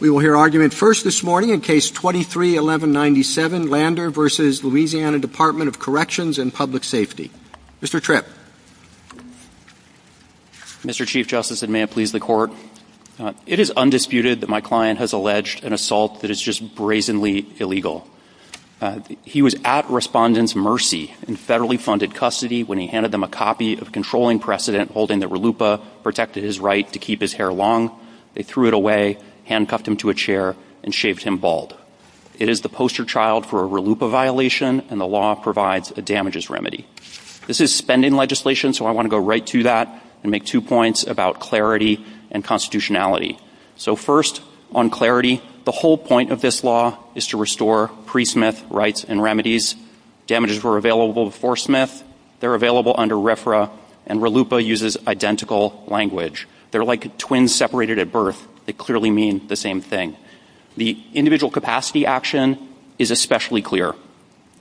We will hear argument first this morning in Case 23-1197, Lander v. Louisiana Department of Corrections and Public Safety. Mr. Tripp. Mr. Chief Justice, and may it please the Court, it is undisputed that my client has alleged an assault that is just brazenly illegal. He was at respondents' mercy in federally funded custody when he handed them a copy of controlling precedent holding that RLUIPA protected his right to keep his hair long. They threw it away, handcuffed him to a chair, and shaved him bald. It is the poster child for a RLUIPA violation, and the law provides a damages remedy. This is spending legislation, so I want to go right to that and make two points about clarity and constitutionality. So first, on clarity, the whole point of this law is to restore pre-Smith rights and remedies. Damages were available before Smith, they're available under RFRA, and RLUIPA uses identical language. They're like twins separated at birth. They clearly mean the same thing. The individual capacity action is especially clear.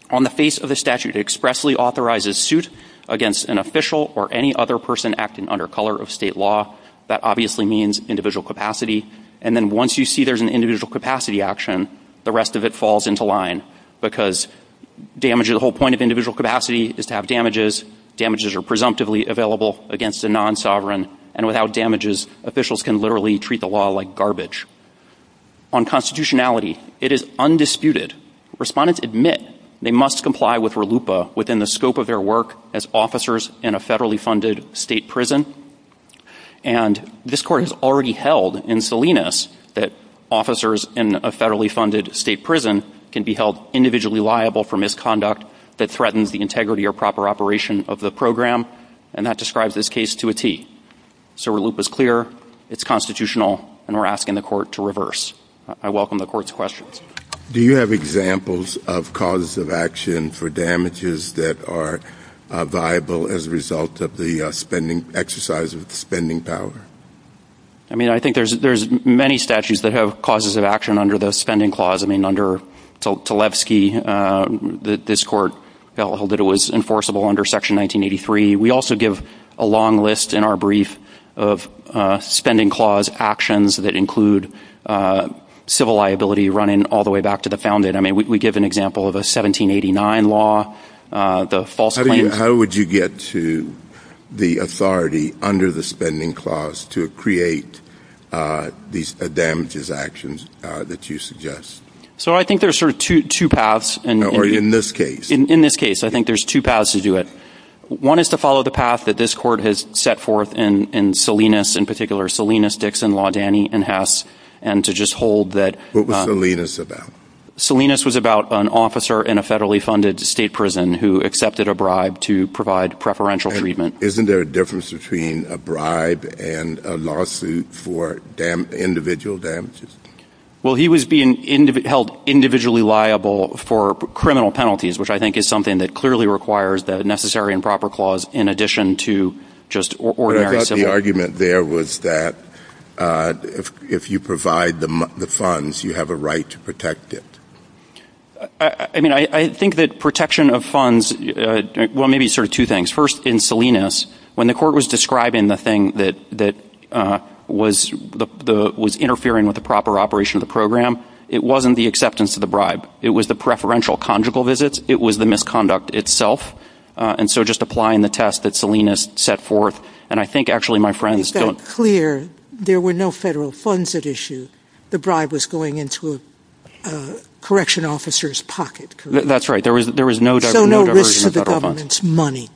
On the face of the statute, it expressly authorizes suit against an official or any other person acting under color of state law. That obviously means individual capacity. And then once you see there's an individual capacity action, the rest of it falls into line, because the whole point of individual capacity is to have damages. Damages are presumptively available against a non-sovereign, and without damages, officials can literally treat the law like garbage. On constitutionality, it is undisputed. Respondents admit they must comply with RLUIPA within the scope of their work as officers in a federally funded state prison. And this Court has already held in Salinas that officers in a federally funded state prison can be held individually liable for misconduct that threatens the integrity or proper operation of the program, and that describes this case to a T. So RLUIPA's clear, it's constitutional, and we're asking the Court to reverse. I welcome the Court's questions. Do you have examples of causes of action for damages that are viable as a result of the exercise of spending power? I mean, I think there's many statutes that have causes of action under the spending clause. I mean, under Tlaibsky, this Court held that it was enforceable under Section 1983. We also give a long list in our brief of spending clause actions that include civil liability running all the way back to the founded. I mean, we give an example of a 1789 law. How would you get to the authority under the spending clause to create these damages actions that you suggest? So I think there's sort of two paths. Or in this case. In this case, I think there's two paths to do it. One is to follow the path that this Court has set forth in Salinas, in particular Salinas, Dixon, Laudani, and Hess, and to just hold that. What was Salinas about? Salinas was about an officer in a federally funded state prison who accepted a bribe to provide preferential treatment. Isn't there a difference between a bribe and a lawsuit for individual damages? Well, he was being held individually liable for criminal penalties, which I think is something that clearly requires the necessary and proper clause in addition to just ordinary civil liability. But I thought the argument there was that if you provide the funds, you have a right to protect it. I mean, I think that protection of funds, well, maybe sort of two things. First, in Salinas, when the Court was describing the thing that was interfering with the proper operation of the program, it wasn't the acceptance of the bribe. It was the preferential conjugal visit. It was the misconduct itself. And so just applying the test that Salinas set forth. And I think, actually, my friends don't- It's clear there were no federal funds at issue. The bribe was going into a correction officer's pocket. That's right. There was no diversion of federal funds. No risk to the government's money.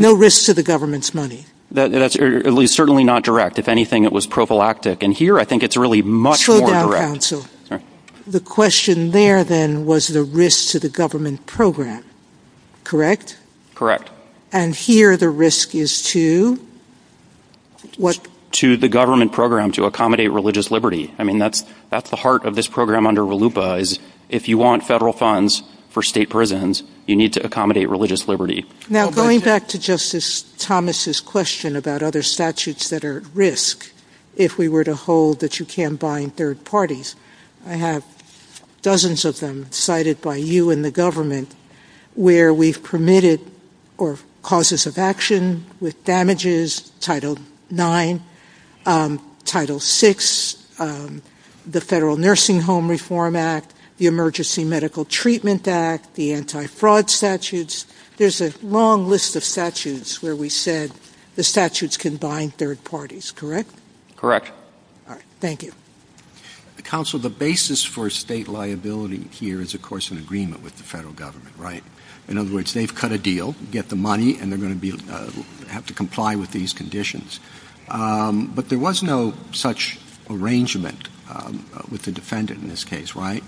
No risk to the government's money. That's certainly not direct. If anything, it was prophylactic. And here, I think it's really much more direct. Slow down, counsel. All right. The question there, then, was the risk to the government program. Correct? Correct. And here, the risk is to what? To the government program, to accommodate religious liberty. I mean, that's the heart of this program under RLUIPA, is if you want federal funds for state prisons, you need to accommodate religious liberty. Now, going back to Justice Thomas' question about other statutes that are at risk, if we were to hold that you can't bind third parties, I have dozens of them cited by you and the government, where we've permitted causes of action with damages, Title IX, Title VI, the Federal Nursing Home Reform Act, the Emergency Medical Treatment Act, the anti-fraud statutes. There's a long list of statutes where we said the statutes can bind third parties. Correct? Correct. All right. Thank you. Counsel, the basis for state liability here is, of course, an agreement with the federal government, right? In other words, they've cut a deal, get the money, and they're going to have to comply with these conditions. But there was no such arrangement with the defendant in this case, right?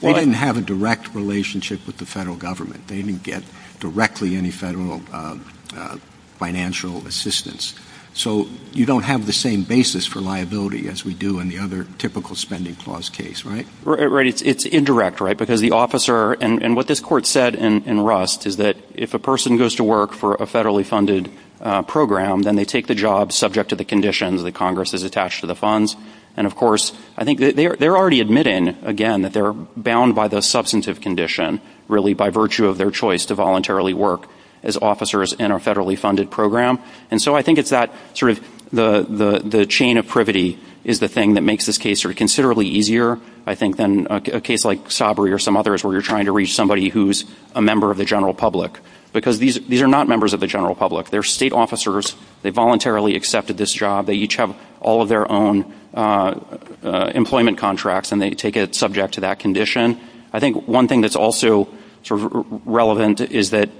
They didn't have a direct relationship with the federal government. They didn't get directly any federal financial assistance. So you don't have the same basis for liability as we do in the other typical spending clause case, right? It's indirect, right? Because the officer, and what this court said in Rust is that if a person goes to work for a federally funded program, then they take the job subject to the conditions that Congress has attached to the funds. And, of course, I think they're already admitting, again, that they're bound by the substantive condition, really by virtue of their choice to voluntarily work as officers in a federally funded program. And so I think it's that sort of the chain of privity is the thing that makes this case considerably easier, I think, than a case like Sabri or some others where you're trying to reach somebody who's a member of the general public. Because these are not members of the general public. They're state officers. They voluntarily accepted this job. They each have all of their own employment contracts, and they take it subject to that condition. I think one thing that's also sort of relevant is that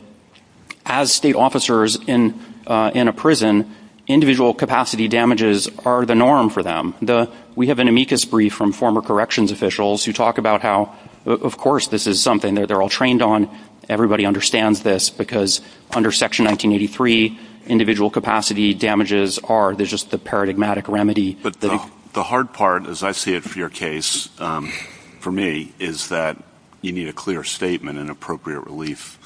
as state officers in a prison, individual capacity damages are the norm for them. We have an amicus brief from former corrections officials who talk about how, of course, this is something that they're all trained on. Everybody understands this because under Section 1983, individual capacity damages are just the paradigmatic remedy. But the hard part, as I see it for your case, for me, is that you need a clear statement and appropriate relief.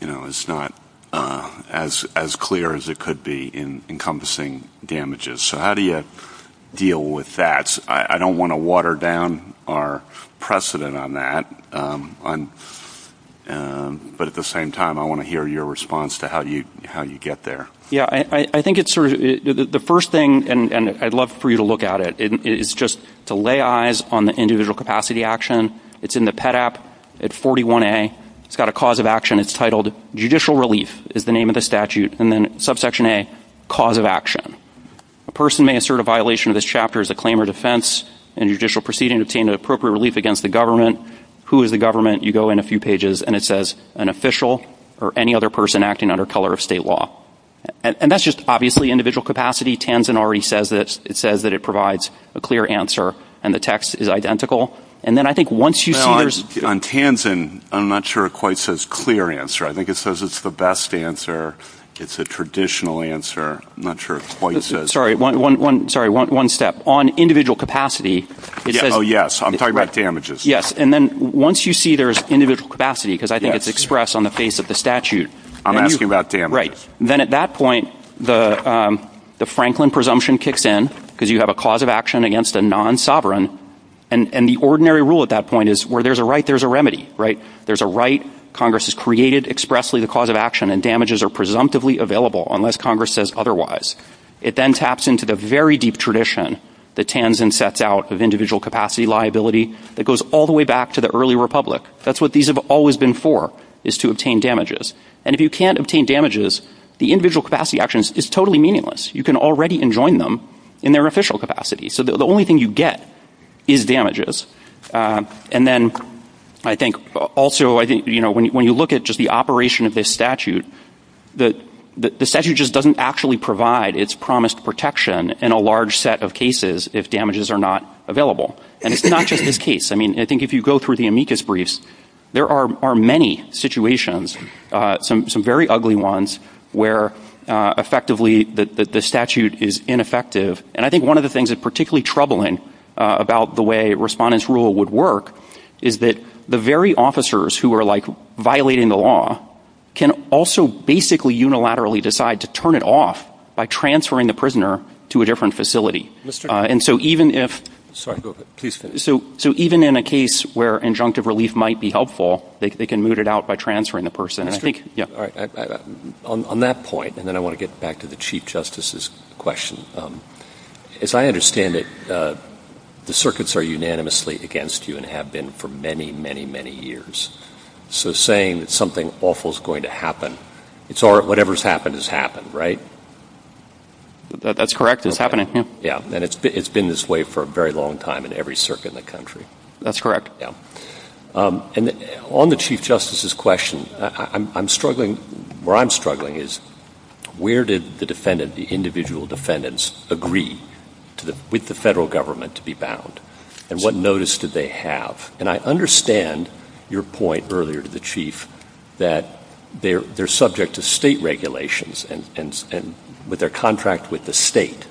You know, it's not as clear as it could be in encompassing damages. So how do you deal with that? I don't want to water down our precedent on that. But at the same time, I want to hear your response to how you get there. Yeah, I think it's sort of the first thing, and I'd love for you to look at it, is just to lay eyes on the individual capacity action. It's in the PEDAP at 41A. It's got a cause of action. It's titled Judicial Relief is the name of the statute, and then subsection A, Cause of Action. A person may assert a violation of this chapter as a claim of defense and judicial proceeding to obtain the appropriate relief against the government. Who is the government? You go in a few pages, and it says an official or any other person acting under color of state law. And that's just obviously individual capacity. Tanzen already says this. It says that it provides a clear answer, and the text is identical. And then I think once you see there's... On Tanzen, I'm not sure it quite says clear answer. I think it says it's the best answer. It's a traditional answer. I'm not sure it quite says... Sorry, one step. On individual capacity... Oh, yes. I'm talking about damages. Yes, and then once you see there's individual capacity, because I think it's expressed on the face of the statute... I'm asking about damages. Right. Then at that point, the Franklin presumption kicks in because you have a cause of action against a non-sovereign. And the ordinary rule at that point is where there's a right, there's a remedy, right? There's a right. Congress has created expressly the cause of action, and damages are presumptively available unless Congress says otherwise. It then taps into the very deep tradition that Tanzen sets out of individual capacity liability that goes all the way back to the early republic. That's what these have always been for, is to obtain damages. And if you can't obtain damages, the individual capacity action is totally meaningless. You can already enjoin them in their official capacity. So the only thing you get is damages. And then I think also when you look at just the operation of this statute, the statute just doesn't actually provide its promised protection in a large set of cases if damages are not available. And it's not just this case. I mean, I think if you go through the amicus briefs, there are many situations, some very ugly ones, where effectively the statute is ineffective. And I think one of the things that's particularly troubling about the way Respondent's Rule would work is that the very officers who are, like, violating the law can also basically unilaterally decide to turn it off by transferring the prisoner to a different facility. And so even if – so even in a case where injunctive relief might be helpful, they can move it out by transferring the person. On that point, and then I want to get back to the Chief Justice's question, as I understand it, the circuits are unanimously against you and have been for many, many, many years. So saying that something awful is going to happen, it's whatever's happened has happened, right? That's correct. It's happening. Yeah. And it's been this way for a very long time in every circuit in the country. That's correct. And on the Chief Justice's question, I'm struggling – where I'm struggling is where did the defendant, the individual defendants, agree with the federal government to be bound? And what notice do they have? And I understand your point earlier to the Chief that they're subject to state regulations and with their contract with the state.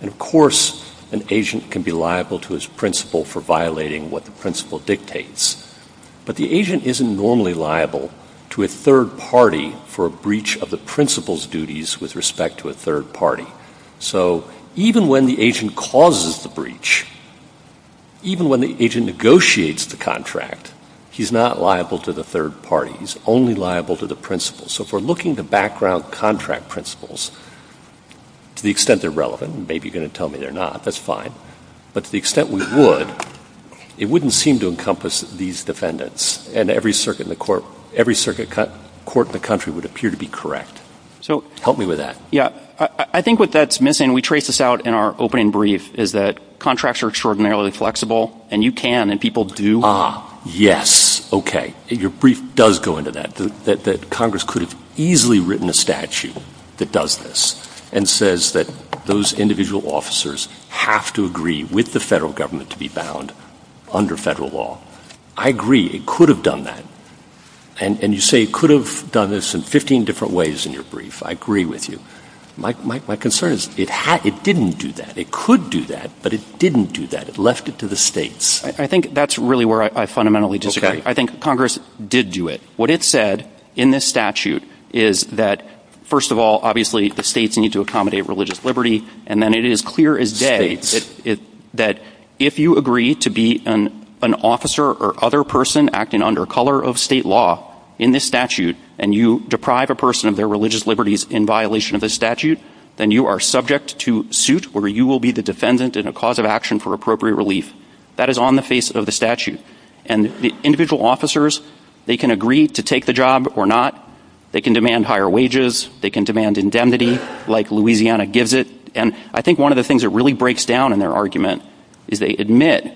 And, of course, an agent can be liable to his principal for violating what the principal dictates. But the agent isn't normally liable to a third party for a breach of the principal's duties with respect to a third party. So even when the agent causes the breach, even when the agent negotiates the contract, he's not liable to the third party. He's only liable to the principal. So if we're looking at the background contract principles, to the extent they're relevant, and maybe you're going to tell me they're not, that's fine. But to the extent we would, it wouldn't seem to encompass these defendants. And every circuit in the court – every circuit court in the country would appear to be correct. So help me with that. Yeah, I think what that's missing – we traced this out in our opening brief – is that contracts are extraordinarily flexible. And you can, and people do. Ah, yes. Okay. Your brief does go into that, that Congress could have easily written a statute that does this and says that those individual officers have to agree with the federal government to be bound under federal law. I agree. It could have done that. And you say it could have done this in 15 different ways in your brief. I agree with you. My concern is it didn't do that. It could do that, but it didn't do that. It left it to the states. I think that's really where I fundamentally disagree. I think Congress did do it. What it said in this statute is that, first of all, obviously the states need to accommodate religious liberty. And then it is clear as day that if you agree to be an officer or other person acting under color of state law in this statute, and you deprive a person of their religious liberties in violation of this statute, then you are subject to suit where you will be the defendant and a cause of action for appropriate relief. That is on the face of the statute. And the individual officers, they can agree to take the job or not. They can demand higher wages. They can demand indemnity like Louisiana gives it. And I think one of the things that really breaks down in their argument is they admit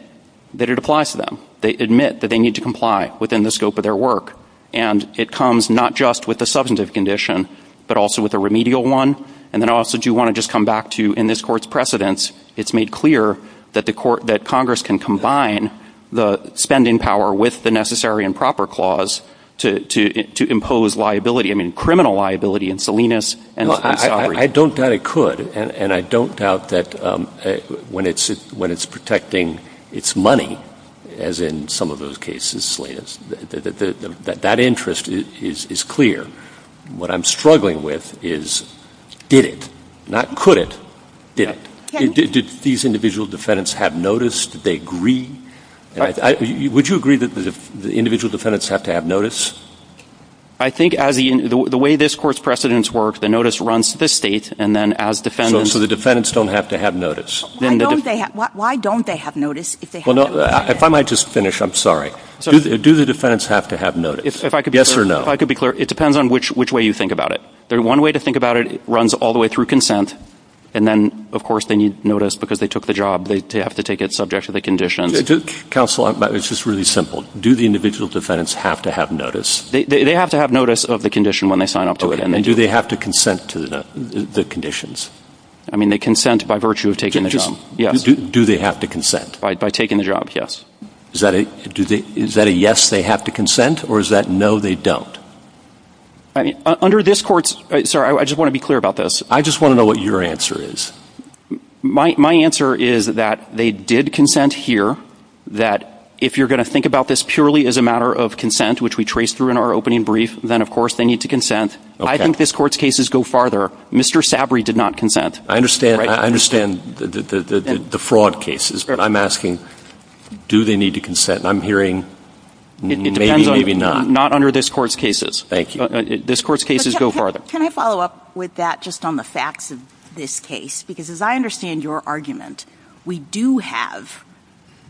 that it applies to them. They admit that they need to comply within the scope of their work. And it comes not just with the substantive condition, but also with a remedial one. And then I also do want to just come back to, in this Court's precedence, it's made clear that Congress can combine the spending power with the necessary and proper clause to impose liability, I mean criminal liability in Salinas. Well, I don't doubt it could. And I don't doubt that when it's protecting its money, as in some of those cases, that that interest is clear. What I'm struggling with is did it, not could it, did it. Did these individual defendants have notice? Did they agree? Would you agree that the individual defendants have to have notice? I think the way this Court's precedence works, the notice runs to the state and then as defendants. So the defendants don't have to have notice. Why don't they have notice? If I might just finish, I'm sorry. Do the defendants have to have notice? Yes or no? If I could be clear, it depends on which way you think about it. There's one way to think about it. It runs all the way through consent. And then, of course, they need notice because they took the job. They have to take it subject to the condition. Counsel, it's just really simple. Do the individual defendants have to have notice? They have to have notice of the condition when they sign up to it. And do they have to consent to the conditions? I mean they consent by virtue of taking the job, yes. Do they have to consent? By taking the job, yes. Is that a yes they have to consent or is that no they don't? Under this court's, sorry, I just want to be clear about this. I just want to know what your answer is. My answer is that they did consent here. That if you're going to think about this purely as a matter of consent, which we traced through in our opening brief, then, of course, they need to consent. I think this court's cases go farther. Mr. Sabry did not consent. I understand the fraud cases. But I'm asking, do they need to consent? I'm hearing maybe, maybe not. Not under this court's cases. Thank you. This court's cases go farther. Can I follow up with that just on the facts of this case? Because as I understand your argument, we do have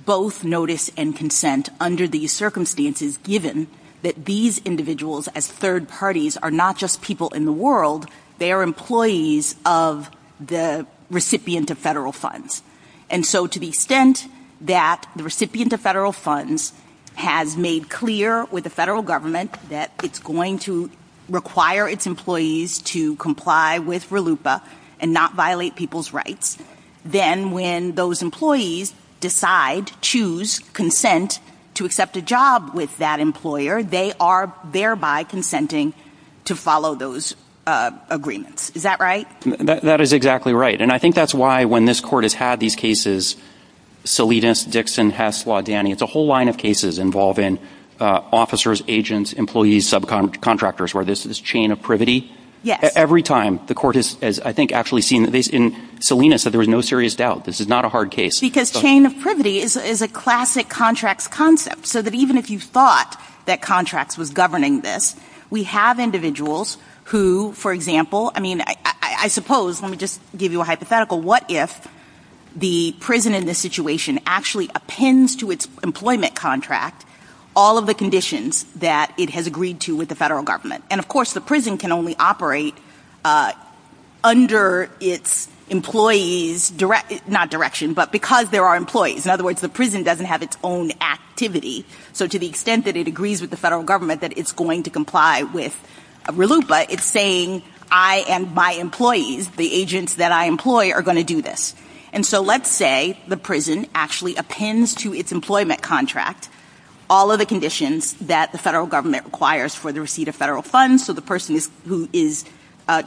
both notice and consent under these circumstances given that these individuals as third parties are not just people in the world. They are employees of the recipient of federal funds. And so to the extent that the recipient of federal funds has made clear with the federal government that it's going to require its employees to comply with RLUIPA and not violate people's rights, then when those employees decide, choose, consent to accept a job with that employer, they are thereby consenting to follow those agreements. Is that right? That is exactly right. And I think that's why when this court has had these cases, Salinas, Dixon, Hess, Laudani, it's a whole line of cases involving officers, agents, employees, subcontractors, where this is chain of privity. Every time the court has, I think, actually seen this. And Salinas said there was no serious doubt. This is not a hard case. Because chain of privity is a classic contracts concept. So that even if you thought that contracts was governing this, we have individuals who, for example, I mean, I suppose, let me just give you a hypothetical. What if the prison in this situation actually appends to its employment contract all of the conditions that it has agreed to with the federal government? And, of course, the prison can only operate under its employees' direction, not direction, but because there are employees. In other words, the prison doesn't have its own activity. So to the extent that it agrees with the federal government that it's going to comply with RLUIPA, it's saying I and my employees, the agents that I employ, are going to do this. And so let's say the prison actually appends to its employment contract all of the conditions that the federal government requires for the receipt of federal funds so the person who is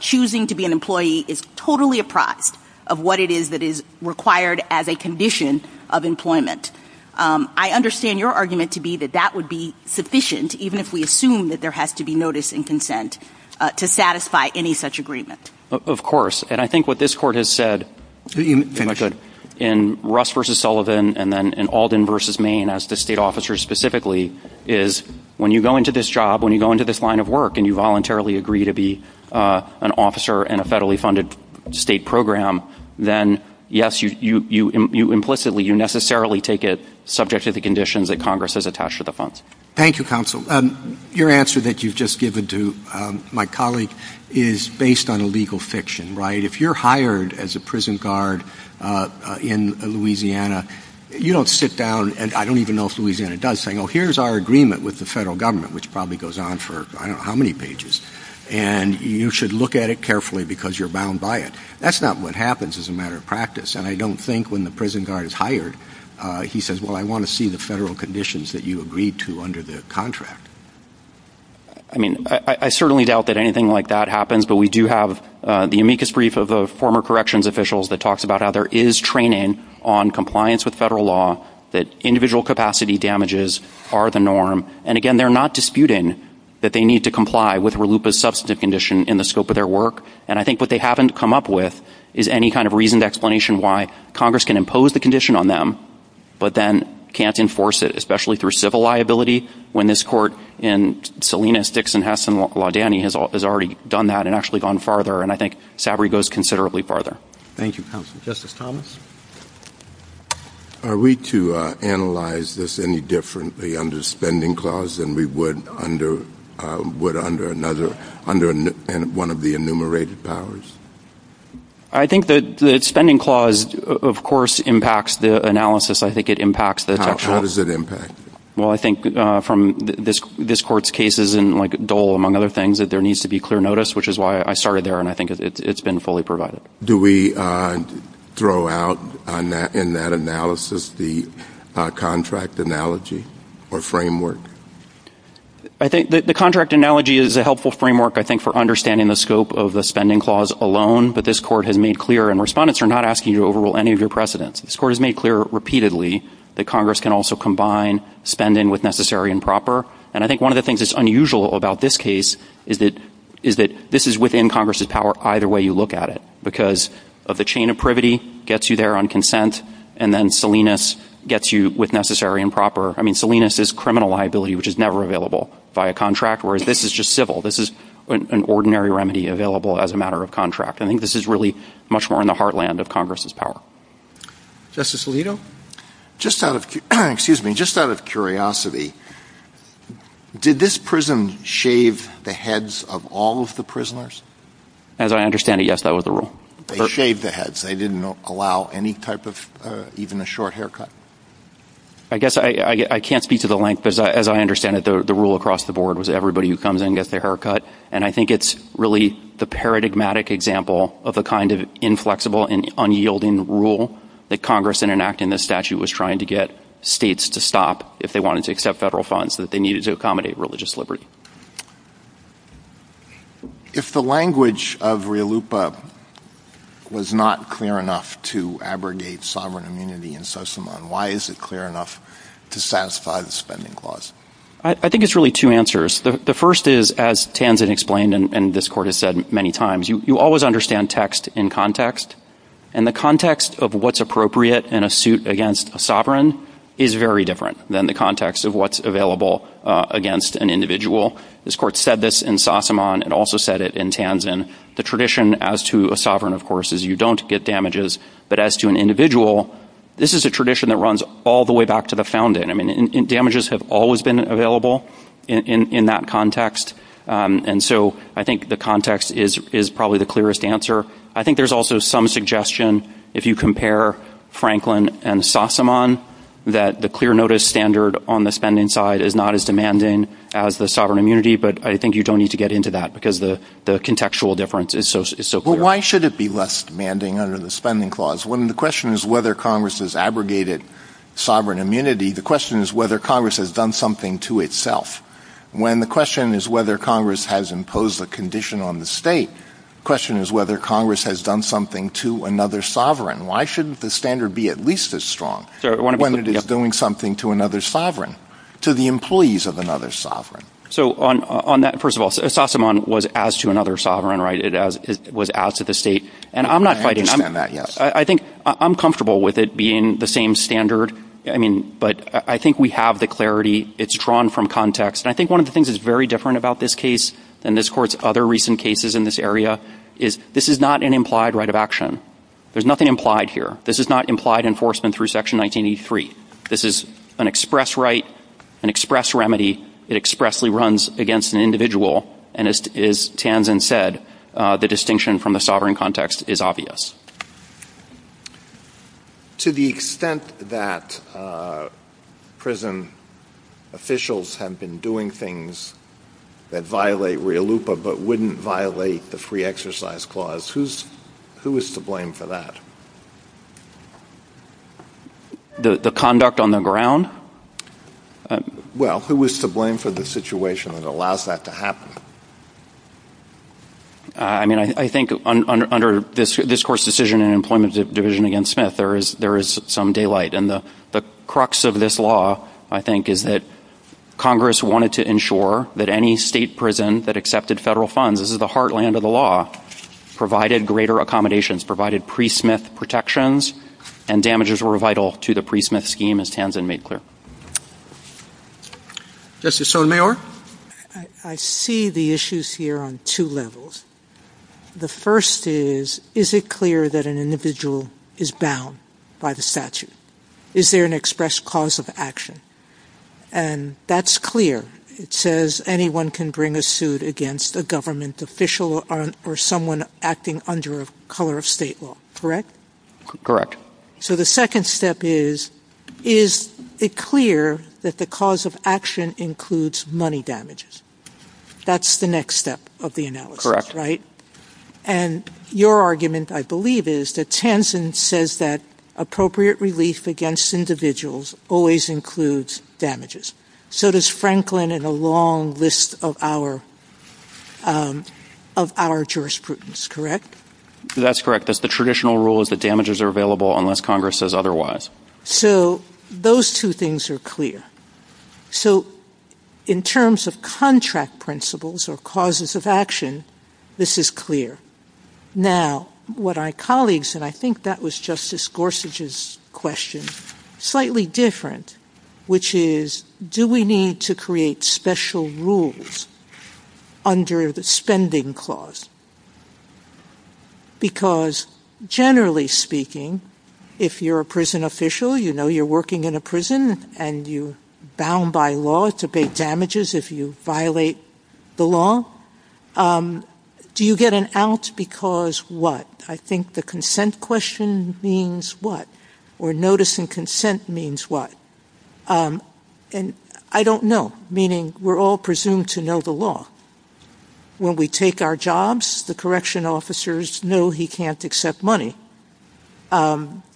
choosing to be an employee is totally apprised of what it is that is required as a condition of employment. I understand your argument to be that that would be sufficient, even if we assume that there has to be notice and consent, to satisfy any such agreement. Of course. And I think what this Court has said in Russ v. Sullivan and then in Alden v. Maine as to state officers specifically is when you go into this job, when you go into this line of work and you voluntarily agree to be an officer in a federally funded state program, then, yes, you implicitly, you necessarily take it subject to the conditions that Congress has attached to the funds. Thank you, Counsel. Your answer that you've just given to my colleague is based on legal fiction, right? If you're hired as a prison guard in Louisiana, you don't sit down, and I don't even know if Louisiana does, saying, oh, here's our agreement with the federal government, which probably goes on for I don't know how many pages, and you should look at it carefully because you're bound by it. That's not what happens as a matter of practice. And I don't think when the prison guard is hired he says, well, I want to see the federal conditions that you agreed to under the contract. I mean, I certainly doubt that anything like that happens, but we do have the amicus brief of the former corrections officials that talks about how there is training on compliance with federal law, that individual capacity damages are the norm. And, again, they're not disputing that they need to comply with RLUIPA's substantive condition in the scope of their work, and I think what they haven't come up with is any kind of reasoned explanation why Congress can impose the condition on them, but then can't enforce it, especially through civil liability, when this court in Salinas, Dixon, Hess, and Laudani has already done that and actually gone farther, and I think SABRI goes considerably farther. Thank you, Counsel. Justice Thomas? Are we to analyze this any differently under the spending clause than we would under one of the enumerated powers? I think that the spending clause, of course, impacts the analysis. I think it impacts this. How does it impact? Well, I think from this court's cases and, like, Dole, among other things, that there needs to be clear notice, which is why I started there, and I think it's been fully provided. Do we throw out in that analysis the contract analogy or framework? I think the contract analogy is a helpful framework, I think, for understanding the scope of the spending clause alone, but this court has made clear, and respondents are not asking you to overrule any of your precedents. This court has made clear repeatedly that Congress can also combine spending with necessary and proper, and I think one of the things that's unusual about this case is that this is within Congress's power either way you look at it, because of the chain of privity gets you there on consent, and then Salinas gets you with necessary and proper. I mean, Salinas is criminal liability, which is never available by a contract, whereas this is just civil. This is an ordinary remedy available as a matter of contract. I think this is really much more in the heartland of Congress's power. Justice Alito, just out of curiosity, did this prison shave the heads of all of the prisoners? As I understand it, yes, that was the rule. They shaved the heads. They didn't allow any type of, even a short haircut. I guess I can't speak to the length. As I understand it, the rule across the board was everybody who comes in gets their hair cut, and I think it's really the paradigmatic example of the kind of inflexible and unyielding rule that Congress, in enacting this statute, was trying to get states to stop if they wanted to accept federal funds that they needed to accommodate religious liberty. If the language of Riolupa was not clear enough to abrogate sovereign immunity in Sosamoan, why is it clear enough to satisfy the spending clause? I think it's really two answers. The first is, as Tanzan explained and this Court has said many times, you always understand text in context, and the context of what's appropriate in a suit against a sovereign is very different than the context of what's available against an individual. This Court said this in Sosamoan. It also said it in Tanzan. The tradition as to a sovereign, of course, is you don't get damages, but as to an individual, this is a tradition that runs all the way back to the founding. I mean, damages have always been available in that context, and so I think the context is probably the clearest answer. I think there's also some suggestion, if you compare Franklin and Sosamoan, that the clear notice standard on the spending side is not as demanding as the sovereign immunity, but I think you don't need to get into that because the contextual difference is so clear. Well, why should it be less demanding under the spending clause? When the question is whether Congress has abrogated sovereign immunity, the question is whether Congress has done something to itself. When the question is whether Congress has imposed a condition on the state, the question is whether Congress has done something to another sovereign. Why shouldn't the standard be at least as strong when it is doing something to another sovereign, to the employees of another sovereign? So on that, first of all, Sosamoan was as to another sovereign, right? It was as to the state, and I'm not fighting that. I think I'm comfortable with it being the same standard, but I think we have the clarity. It's drawn from context, and I think one of the things that's very different about this case and this Court's other recent cases in this area is this is not an implied right of action. There's nothing implied here. This is not implied enforcement through Section 1983. This is an express right, an express remedy. It expressly runs against an individual, and as Tanzen said, the distinction from the sovereign context is obvious. To the extent that prison officials have been doing things that violate RIA LUPA but wouldn't violate the Free Exercise Clause, who is to blame for that? The conduct on the ground? Well, who is to blame for the situation that allows that to happen? I mean, I think under this Court's decision in Employment Division against Smith, there is some daylight, and the crux of this law, I think, is that Congress wanted to ensure that any state prison that accepted federal funds, this is the heartland of the law, provided greater accommodations, provided pre-Smith protections, and damages were vital to the pre-Smith scheme, as Tanzen made clear. Justice Sotomayor? I see the issues here on two levels. The first is, is it clear that an individual is bound by the statute? Is there an express cause of action? And that's clear. It says anyone can bring a suit against a government official or someone acting under a color of state law, correct? Correct. So the second step is, is it clear that the cause of action includes money damages? That's the next step of the analysis, right? And your argument, I believe, is that Tanzen says that appropriate relief against individuals always includes damages. So does Franklin in a long list of our jurisprudence, correct? That's correct. That's the traditional rule is that damages are available unless Congress says otherwise. So those two things are clear. So in terms of contract principles or causes of action, this is clear. Now, what our colleagues, and I think that was Justice Gorsuch's question, is slightly different, which is, do we need to create special rules under the spending clause? Because generally speaking, if you're a prison official, you know you're working in a prison and you're bound by law to pay damages if you violate the law, do you get an out because what? I think the consent question means what? Or notice and consent means what? And I don't know, meaning we're all presumed to know the law. When we take our jobs, the correction officers know he can't accept money.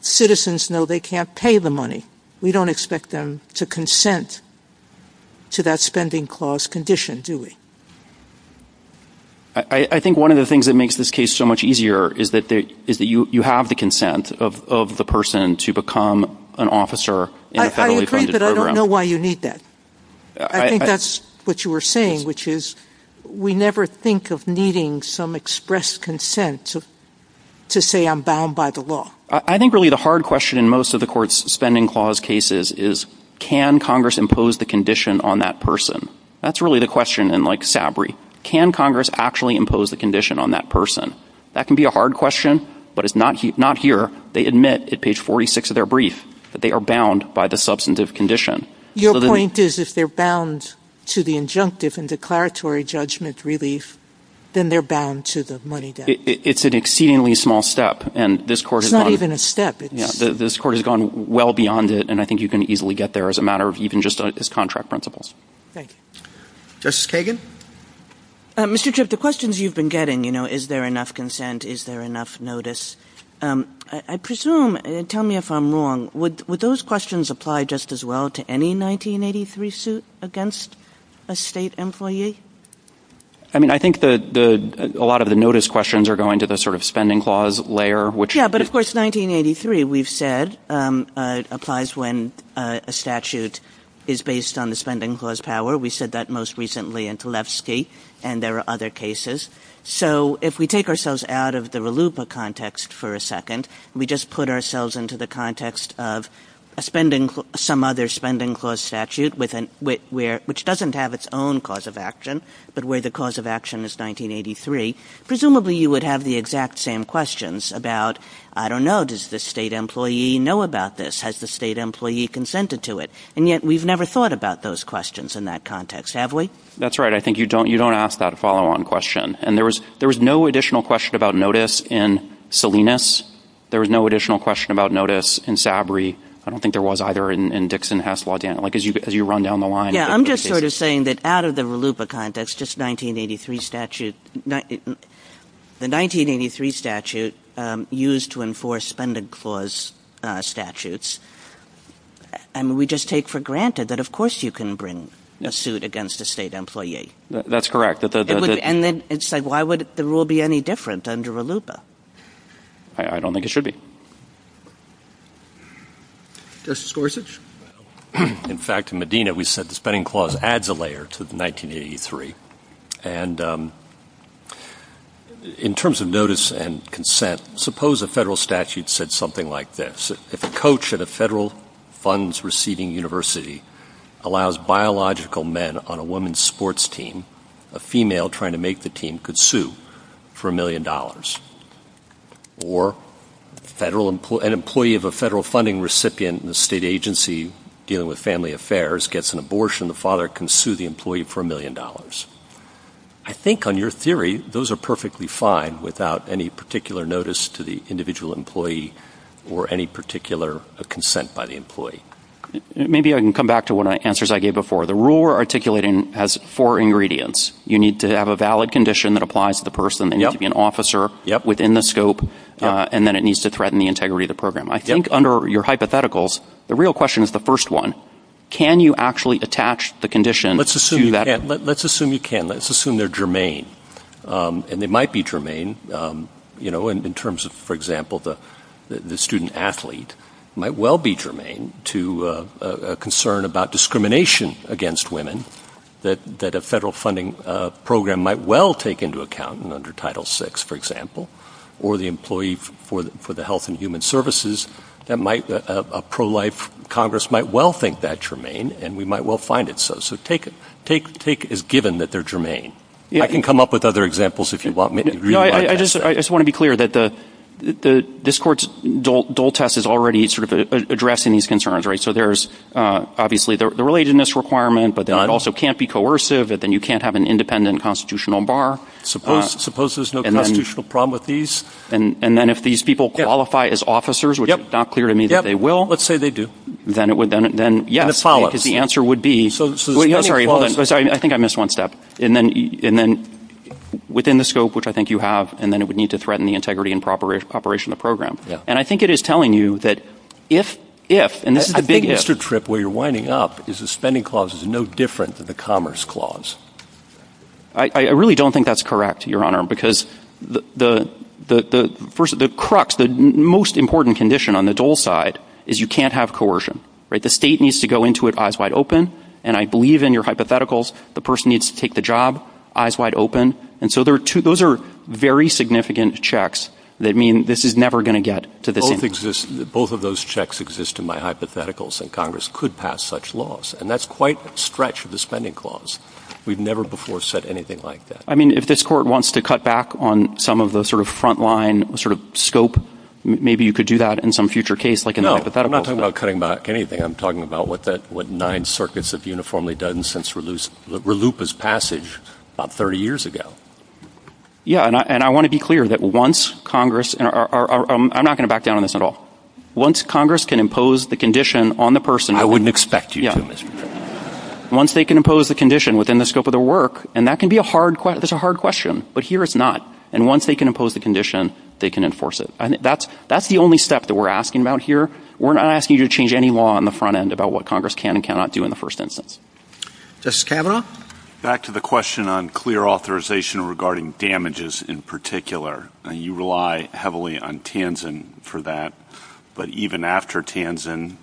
Citizens know they can't pay the money. We don't expect them to consent to that spending clause condition, do we? I think one of the things that makes this case so much easier is that you have the consent of the person to become an officer in a federally funded program. I agree, but I don't know why you need that. I think that's what you were saying, which is, we never think of needing some expressed consent to say I'm bound by the law. I think really the hard question in most of the court's spending clause cases is, can Congress impose the condition on that person? That's really the question in Sabri. Can Congress actually impose the condition on that person? That can be a hard question, but it's not here. They admit at page 46 of their brief that they are bound by the substantive condition. Your point is if they're bound to the injunctive and declaratory judgment relief, then they're bound to the money debt. It's an exceedingly small step. It's not even a step. This court has gone well beyond it, and I think you can easily get there as a matter of even just as contract principles. Thank you. Justice Kagan? Mr. Tripp, the questions you've been getting, you know, is there enough consent, is there enough notice, I presume, tell me if I'm wrong, would those questions apply just as well to any 1983 suit against a state employee? I mean, I think a lot of the notice questions are going to the sort of spending clause layer. Yeah, but, of course, 1983 we've said applies when a statute is based on the spending clause power. We said that most recently in Tlefsky, and there are other cases. So if we take ourselves out of the RLUIPA context for a second, we just put ourselves into the context of some other spending clause statute which doesn't have its own cause of action, but where the cause of action is 1983, presumably you would have the exact same questions about, I don't know, does the state employee know about this? Has the state employee consented to it? And yet we've never thought about those questions in that context, have we? That's right. I think you don't ask that follow-on question. And there was no additional question about notice in Salinas. There was no additional question about notice in Sabri. I don't think there was either in Dixon-Hasselhoff, Dan, as you run down the line. I'm just sort of saying that out of the RLUIPA context, the 1983 statute used to enforce spending clause statutes, we just take for granted that, of course, you can bring a suit against a state employee. That's correct. And then it's like why would the rule be any different under RLUIPA? I don't think it should be. Justice Gorsuch? In fact, in Medina, we said the spending clause adds a layer to 1983. And in terms of notice and consent, suppose a federal statute said something like this. If a coach at a federal funds-receiving university allows biological men on a women's sports team, a female trying to make the team could sue for $1 million. Or an employee of a federal funding recipient in a state agency dealing with family affairs gets an abortion, the father can sue the employee for $1 million. I think on your theory, those are perfectly fine without any particular notice to the individual employee or any particular consent by the employee. Maybe I can come back to one of the answers I gave before. The rule we're articulating has four ingredients. You need to have a valid condition that applies to the person. They need to be an officer within the scope. And then it needs to threaten the integrity of the program. I think under your hypotheticals, the real question is the first one. Can you actually attach the condition to that? Let's assume you can. Let's assume they're germane. And they might be germane in terms of, for example, the student athlete might well be germane to a concern about discrimination against women that a federal funding program might well take into account under Title VI, for example, or the employee for the health and human services. A pro-life Congress might well think that's germane, and we might well find it so. So take it as given that they're germane. I can come up with other examples if you want me to. I just want to be clear that this court's dole test is already sort of addressing these concerns. So there's obviously the relatedness requirement, but then it also can't be coercive. Then you can't have an independent constitutional bar. Suppose there's no constitutional problem with these. And then if these people qualify as officers, which is not clear to me that they will. Let's say they do. Then yes, because the answer would be. I think I missed one step. And then within the scope, which I think you have, and then it would need to threaten the integrity and operation of the program. And I think it is telling you that if, if, and this is the big if. I think, Mr. Tripp, where you're winding up is the spending clause is no different than the commerce clause. I really don't think that's correct, Your Honor, because the crux, the most important condition on the dole side is you can't have coercion. The state needs to go into it eyes wide open. And I believe in your hypotheticals the person needs to take the job eyes wide open. And so there are two. Those are very significant checks that mean this is never going to get to this. Both exist. Both of those checks exist in my hypotheticals. And Congress could pass such laws. And that's quite a stretch of the spending clause. We've never before said anything like that. I mean, if this court wants to cut back on some of the sort of front line sort of scope, maybe you could do that in some future case like that. I'm not talking about cutting back anything. I'm talking about what nine circuits have uniformly done since RLUIPA's passage about 30 years ago. Yeah. And I want to be clear that once Congress and I'm not going to back down on this at all. Once Congress can impose the condition on the person. I wouldn't expect you to do it. Once they can impose the condition within the scope of their work. And that can be a hard question. It's a hard question. But here it's not. And once they can impose the condition, they can enforce it. That's the only step that we're asking about here. We're not asking you to change any law on the front end about what Congress can and cannot do in the first instance. Justice Kavanaugh? Back to the question on clear authorization regarding damages in particular. You rely heavily on Tanzen for that. But even after Tanzen,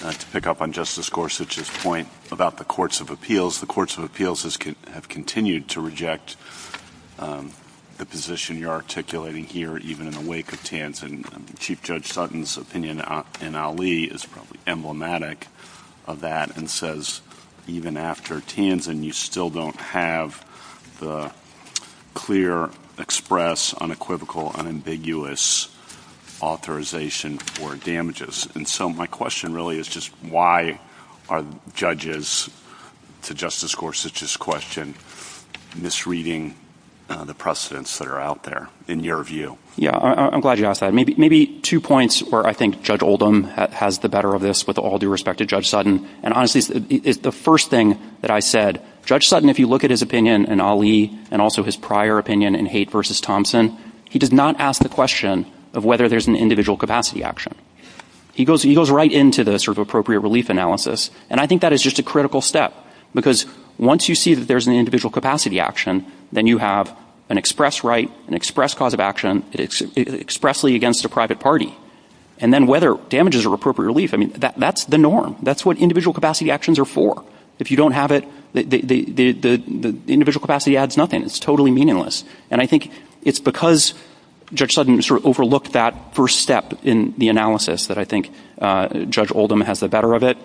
to pick up on Justice Gorsuch's point about the courts of appeals, the courts of appeals have continued to reject the position you're articulating here even in the wake of Tanzen. And Chief Judge Sutton's opinion in Ali is emblematic of that and says even after Tanzen, you still don't have the clear, express, unequivocal, unambiguous authorization for damages. And so my question really is just why are judges, to Justice Gorsuch's question, misreading the precedents that are out there in your view? Yeah, I'm glad you asked that. Maybe two points where I think Judge Oldham has the better of this with all due respect to Judge Sutton. And honestly, the first thing that I said, Judge Sutton, if you look at his opinion in Ali and also his prior opinion in Haight v. Thompson, he did not ask the question of whether there's an individual capacity action. He goes right into the sort of appropriate relief analysis. And I think that is just a critical step because once you see that there's an individual capacity action, then you have an express right, an express cause of action expressly against a private party. And then whether damages are appropriate relief, I mean, that's the norm. That's what individual capacity actions are for. If you don't have it, the individual capacity adds nothing. It's totally meaningless. And I think it's because Judge Sutton sort of overlooked that first step in the analysis that I think Judge Oldham has the better of it.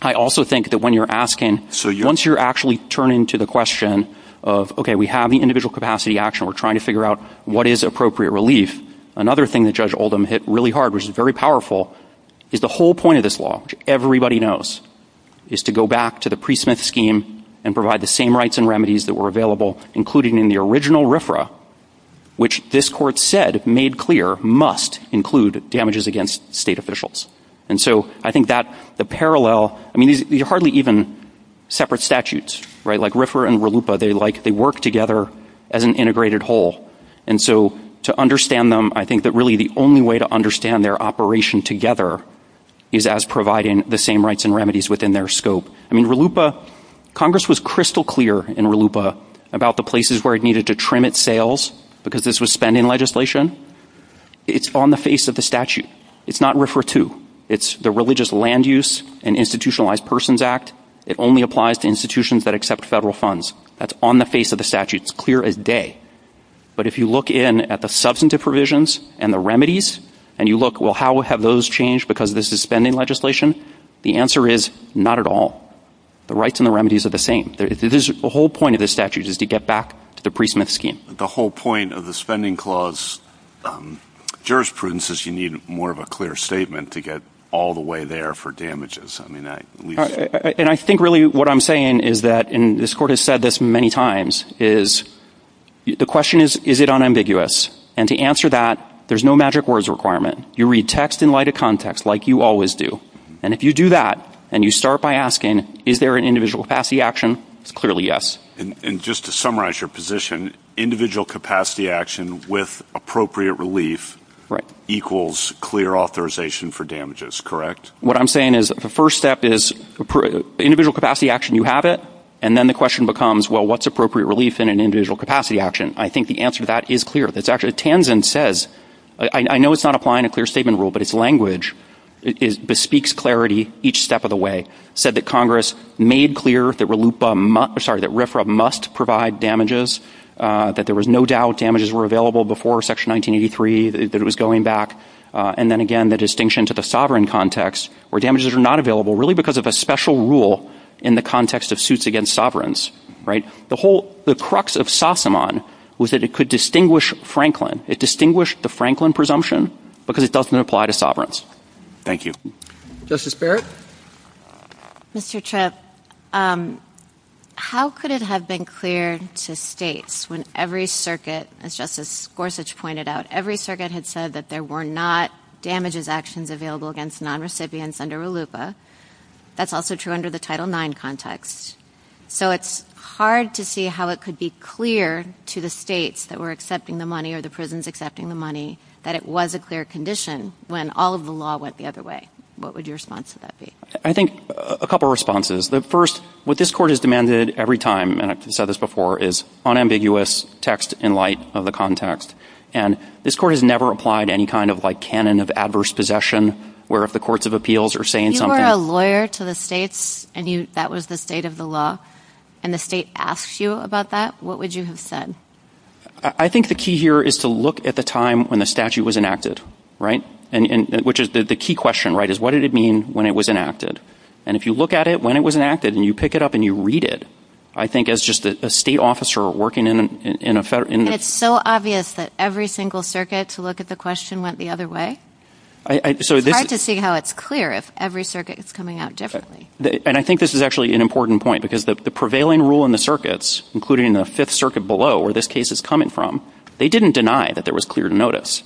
I also think that when you're asking, once you're actually turning to the question of, okay, we have the individual capacity action. We're trying to figure out what is appropriate relief. Another thing that Judge Oldham hit really hard, which is very powerful, is the whole point of this law, which everybody knows, is to go back to the Priest-Smith scheme and provide the same rights and remedies that were available, including in the original RFRA, which this Court said, made clear, must include damages against state officials. And so I think that the parallel, I mean, you're hardly even separate statutes, right? Like RFRA and RLUIPA, they work together as an integrated whole. And so to understand them, I think that really the only way to understand their operation together is as providing the same rights and remedies within their scope. I mean, RLUIPA, Congress was crystal clear in RLUIPA about the places where it needed to trim its sales because this was spending legislation. It's on the face of the statute. It's not RFRA 2. It's the Religious Land Use and Institutionalized Persons Act. It only applies to institutions that accept federal funds. That's on the face of the statute. It's clear as day. But if you look in at the substantive provisions and the remedies and you look, well, how have those changed because this is spending legislation? The answer is not at all. The rights and the remedies are the same. The whole point of this statute is to get back to the Priest-Smith scheme. The whole point of the spending clause jurisprudence is you need more of a clear statement to get all the way there for damages. And I think really what I'm saying is that, and this Court has said this many times, is the question is, is it unambiguous? And to answer that, there's no magic words requirement. You read text in light of context like you always do. And if you do that and you start by asking, is there an individual FASCI action, clearly yes. And just to summarize your position, individual capacity action with appropriate relief equals clear authorization for damages, correct? What I'm saying is the first step is individual capacity action, you have it, and then the question becomes, well, what's appropriate relief in an individual capacity action? I think the answer to that is clear. It's actually, Tanzen says, I know it's not applying a clear statement rule, but its language bespeaks clarity each step of the way. It said that Congress made clear that RFRA must provide damages, that there was no doubt damages were available before Section 1983, that it was going back, and then again the distinction to the sovereign context where damages are not available, really because of the special rule in the context of suits against sovereigns, right? The whole, the crux of Sassemon was that it could distinguish Franklin. It distinguished the Franklin presumption because it doesn't apply to sovereigns. Thank you. Justice Barrett? Mr. Tripp, how could it have been clear to states when every circuit, as Justice Gorsuch pointed out, every circuit had said that there were not damages actions available against non-recipients under ALUPA? That's also true under the Title IX context. So it's hard to see how it could be clear to the states that were accepting the money or the prisons accepting the money that it was a clear condition when all of the law went the other way. What would your response to that be? I think a couple responses. The first, what this Court has demanded every time, and I've said this before, is unambiguous text in light of the context. And this Court has never applied any kind of like canon of adverse possession where if the courts of appeals are saying something— If you were a lawyer to the states and that was the state of the law, and the state asked you about that, what would you have said? I think the key here is to look at the time when the statute was enacted, right? Which is the key question, right, is what did it mean when it was enacted? And if you look at it when it was enacted and you pick it up and you read it, I think as just a state officer working in a federal— It's so obvious that every single circuit to look at the question went the other way. It's hard to see how it's clear if every circuit is coming out differently. And I think this is actually an important point because the prevailing rule in the circuits, including the Fifth Circuit below where this case is coming from, they didn't deny that there was clear notice.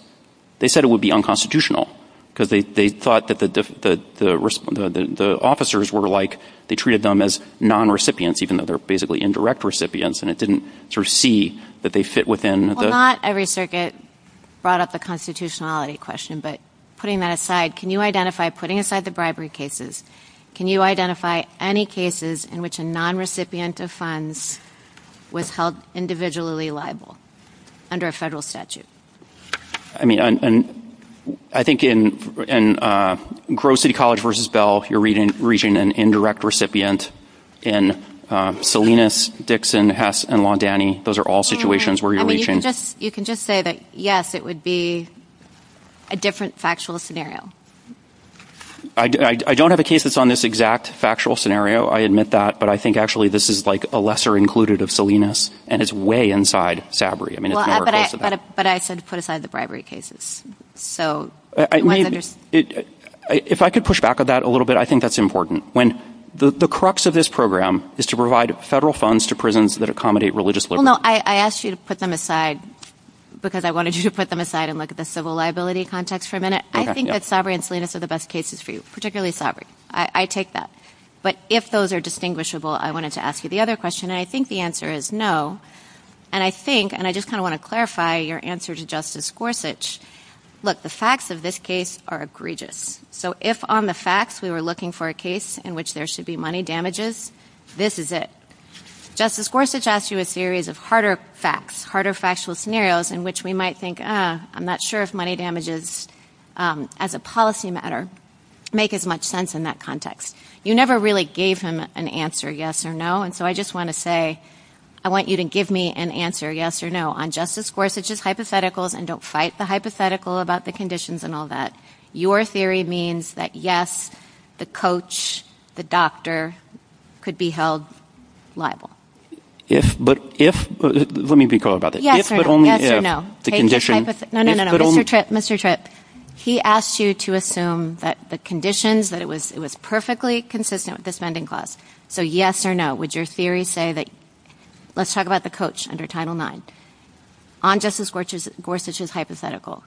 They said it would be unconstitutional because they thought that the officers were like— they treated them as non-recipients even though they're basically indirect recipients and it didn't sort of see that they fit within the— Well, not every circuit brought up the constitutionality question, but putting that aside, can you identify—putting aside the bribery cases, can you identify any cases in which a non-recipient of funds was held individually liable under a federal statute? I mean, I think in Grosse City College v. Bell, you're reaching an indirect recipient. In Salinas, Dixon, Hess, and Londani, those are all situations where you're reaching— You can just say that, yes, it would be a different factual scenario. I don't have a case that's on this exact factual scenario. I admit that, but I think actually this is like a lesser included of Salinas and it's way inside SABRI. But I said to put aside the bribery cases. If I could push back on that a little bit, I think that's important. The crux of this program is to provide federal funds to prisons that accommodate religious liberty. Well, no, I asked you to put them aside because I wanted you to put them aside and look at the civil liability context for a minute. I think that SABRI and Salinas are the best cases for you, particularly SABRI. I take that. But if those are distinguishable, I wanted to ask you the other question, and I think the answer is no. And I think, and I just kind of want to clarify your answer to Justice Gorsuch, look, the facts of this case are egregious. So if on the facts we were looking for a case in which there should be money damages, this is it. Justice Gorsuch asked you a series of harder facts, harder factual scenarios in which we might think, I'm not sure if money damages as a policy matter make as much sense in that context. You never really gave him an answer, yes or no. And so I just want to say I want you to give me an answer, yes or no. On Justice Gorsuch's hypotheticals, and don't fight the hypothetical about the conditions and all that, your theory means that, yes, the coach, the doctor could be held liable. Yes, but if, let me recall about it. Yes or no. The condition. No, no, no, Mr. Tripp, Mr. Tripp. He asked you to assume that the conditions, that it was perfectly consistent with the spending clause. So yes or no, would your theory say that, let's talk about the coach under Title IX. On Justice Gorsuch's hypothetical.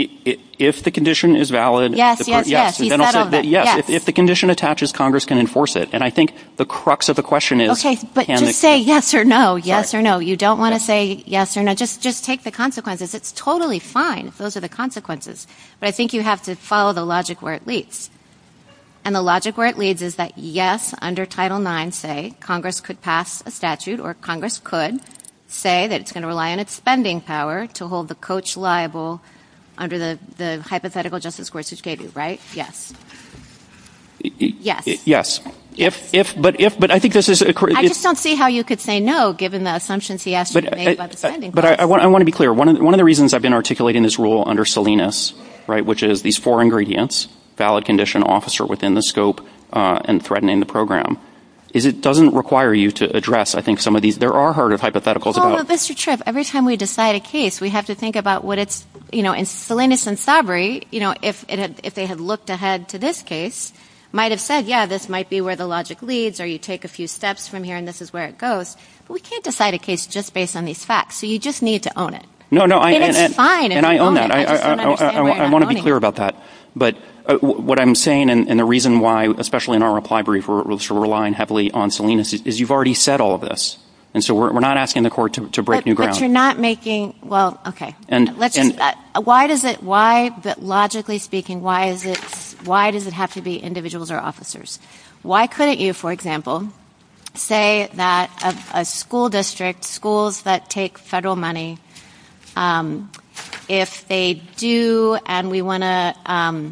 If the condition is valid. Yes, yes, yes. If the condition attaches, Congress can enforce it. And I think the crux of the question is. Okay, but just say yes or no, yes or no. You don't want to say yes or no. Just take the consequences. It's totally fine if those are the consequences. But I think you have to follow the logic where it leads. And the logic where it leads is that, yes, under Title IX, say, Congress could pass a statute or Congress could say that it's going to rely on its spending power to hold the coach liable under the hypothetical Justice Gorsuch gave you, right? Yes. Yes. Yes. If, but if, but I think this is. I just don't see how you could say no, given the assumptions he asked you to make about the spending clause. But I want to be clear. One of the reasons I've been articulating this rule under Salinas, right, which is these four ingredients, valid condition officer within the scope and threatening the program is it doesn't require you to address. I think some of these there are heard of hypothetical. Mr. Tripp, every time we decide a case, we have to think about what it's Salinas and Sabri. You know, if they had looked ahead to this case, might have said, yeah, this might be where the logic leads or you take a few steps from here. And this is where it goes. We can't decide a case just based on these facts. So you just need to own it. No, no. And I own that. I want to be clear about that. But what I'm saying, and the reason why, especially in our reply brief, we're relying heavily on Salinas is you've already said all of this. And so we're not asking the court to break new ground. But you're not making. Well, okay. And why does it? Logically speaking, why is it? Why does it have to be individuals or officers? Why couldn't you, for example, say that a school district, schools that take federal money, if they do and we want to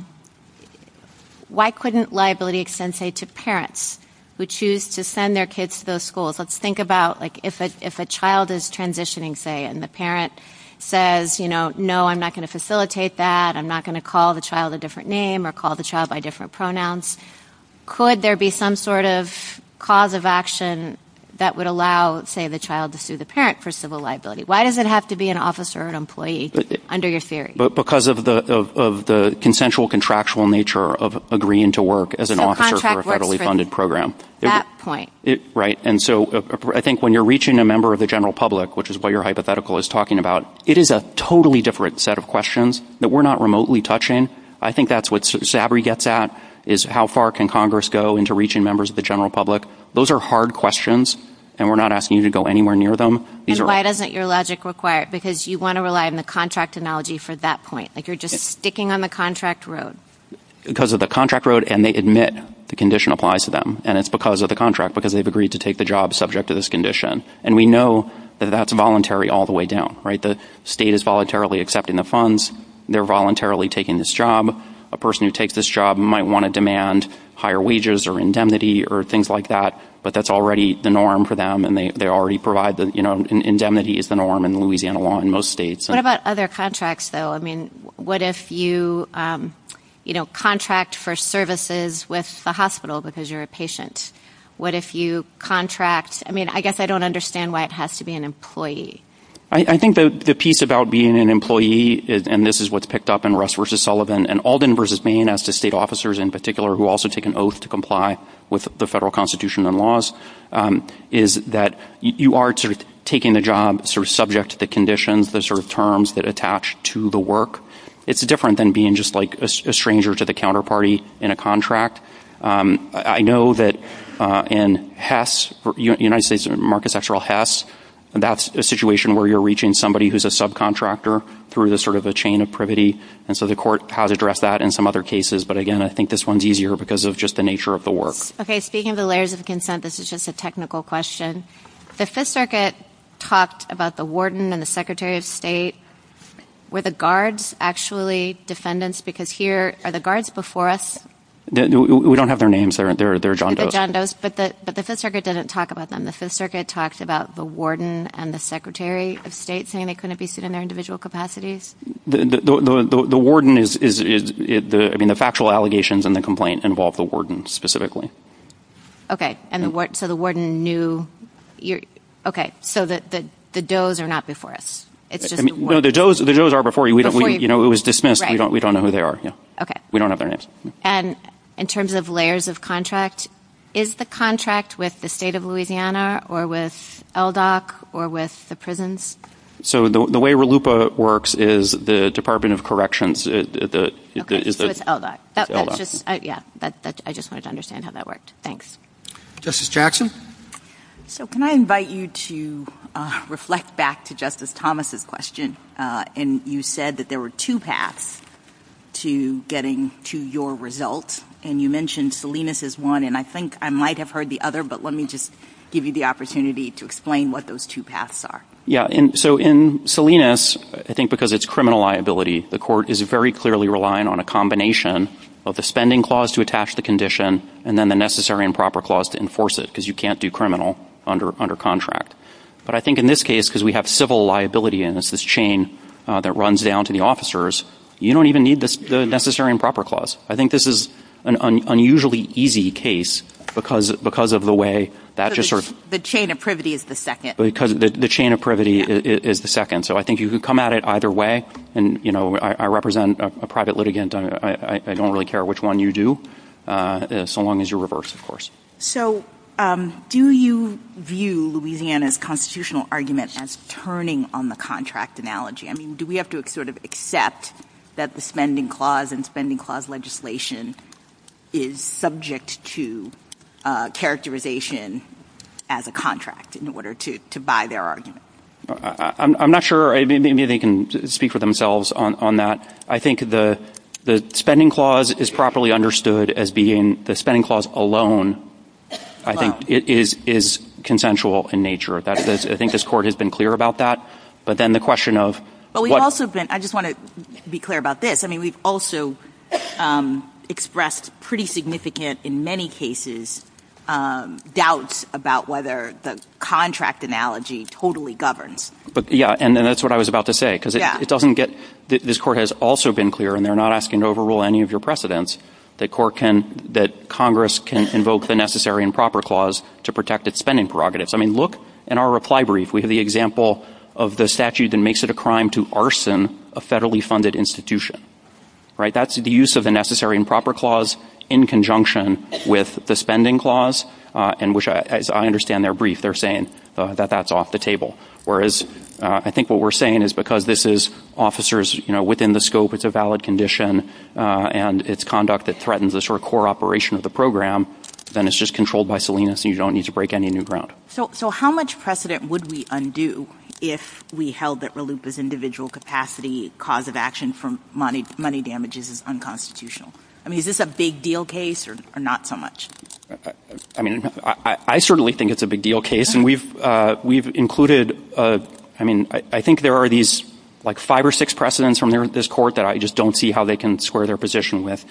– why couldn't liability extend, say, to parents who choose to send their kids to those schools? Let's think about, like, if a child is transitioning, say, and the parent says, you know, no, I'm not going to facilitate that. I'm not going to call the child a different name or call the child by different pronouns. Could there be some sort of cause of action that would allow, say, the child to sue the parent for civil liability? Why does it have to be an officer or an employee under your theory? Because of the consensual contractual nature of agreeing to work as an officer for a federally funded program. That point. Right. And so I think when you're reaching a member of the general public, which is what your hypothetical is talking about, it is a totally different set of questions that we're not remotely touching. I think that's what Sabri gets at, is how far can Congress go into reaching members of the general public? Those are hard questions, and we're not asking you to go anywhere near them. And why doesn't your logic require it? Because you want to rely on the contract analogy for that point. Like, you're just sticking on the contract road. Because of the contract road, and they admit the condition applies to them, and it's because of the contract, because they've agreed to take the job subject to this condition. And we know that that's voluntary all the way down, right? The state is voluntarily accepting the funds. They're voluntarily taking this job. A person who takes this job might want to demand higher wages or indemnity or things like that, but that's already the norm for them, and they already provide the, you know, indemnity is the norm in Louisiana law in most states. What about other contracts, though? I mean, what if you, you know, contract for services with a hospital because you're a patient? What if you contract? I mean, I guess I don't understand why it has to be an employee. I think the piece about being an employee, and this is what's picked up in Russ versus Sullivan and Alden versus Maine as to state officers in particular who also take an oath to comply with the federal constitution and laws, is that you are sort of taking the job sort of subject to the conditions, the sort of terms that attach to the work. It's different than being just like a stranger to the counterparty in a contract. I know that in Hess, United States market central Hess, that's a situation where you're reaching somebody who's a subcontractor through the sort of a chain of privity, and so the court has addressed that in some other cases, but again, I think this one's easier because of just the nature of the work. Okay, speaking of the layers of consent, this is just a technical question. The Fifth Circuit talked about the warden and the secretary of state. Were the guards actually defendants? Because here, are the guards before us? We don't have their names. They're John Doe's. They're John Doe's, but the Fifth Circuit didn't talk about them. The Fifth Circuit talks about the warden and the secretary of state saying they couldn't be seen in their individual capacities. The warden is, I mean, the factual allegations in the complaint involve the warden specifically. Okay, so the warden knew, okay, so the Doe's are not before us. The Doe's are before you. It was dismissed. We don't know who they are. We don't have their names. And in terms of layers of contract, is the contract with the state of Louisiana or with LDOC or with the prisons? So the way RLUPA works is the Department of Corrections. Okay, so it's LDOC. Yeah, I just wanted to understand how that worked. Thanks. Justice Jackson? So can I invite you to reflect back to Justice Thomas' question? And you said that there were two paths to getting to your results, and you mentioned Salinas as one, and I think I might have heard the other, but let me just give you the opportunity to explain what those two paths are. Yeah, so in Salinas, I think because it's criminal liability, the court is very clearly relying on a combination of the spending clause to attach the condition and then the necessary and proper clause to enforce it because you can't do criminal under contract. But I think in this case, because we have civil liability, and it's this chain that runs down to the officers, you don't even need the necessary and proper clause. I think this is an unusually easy case because of the way that just sort of – The chain of privity is the second. The chain of privity is the second. So I think you could come at it either way. And, you know, I represent a private litigant. I don't really care which one you do, so long as you're reversed, of course. So do you view Louisiana's constitutional argument as turning on the contract analogy? I mean, do we have to sort of accept that the spending clause and spending clause legislation is subject to characterization as a contract in order to buy their argument? I'm not sure. Maybe they can speak for themselves on that. I think the spending clause is properly understood as being the spending clause alone. I think it is consensual in nature. I think this Court has been clear about that. But then the question of – I just want to be clear about this. I mean, we've also expressed pretty significant, in many cases, doubts about whether the contract analogy totally governs. Yeah, and that's what I was about to say. This Court has also been clear, and they're not asking to overrule any of your precedents, that Congress can invoke the Necessary and Proper Clause to protect its spending prerogatives. I mean, look at our reply brief. We have the example of the statute that makes it a crime to arson a federally funded institution. That's the use of the Necessary and Proper Clause in conjunction with the spending clause, in which, as I understand their brief, they're saying that that's off the table. Whereas, I think what we're saying is because this is officers within the scope, it's a valid condition, and it's conduct that threatens the sort of core operation of the program, then it's just controlled by Salinas, and you don't need to break any new ground. So how much precedent would we undo if we held that RLUIPA's individual capacity cause of action for money damages is unconstitutional? I mean, is this a big deal case or not so much? I mean, I certainly think it's a big deal case. We've included, I mean, I think there are these, like, five or six precedents from this court that I just don't see how they can square their position with.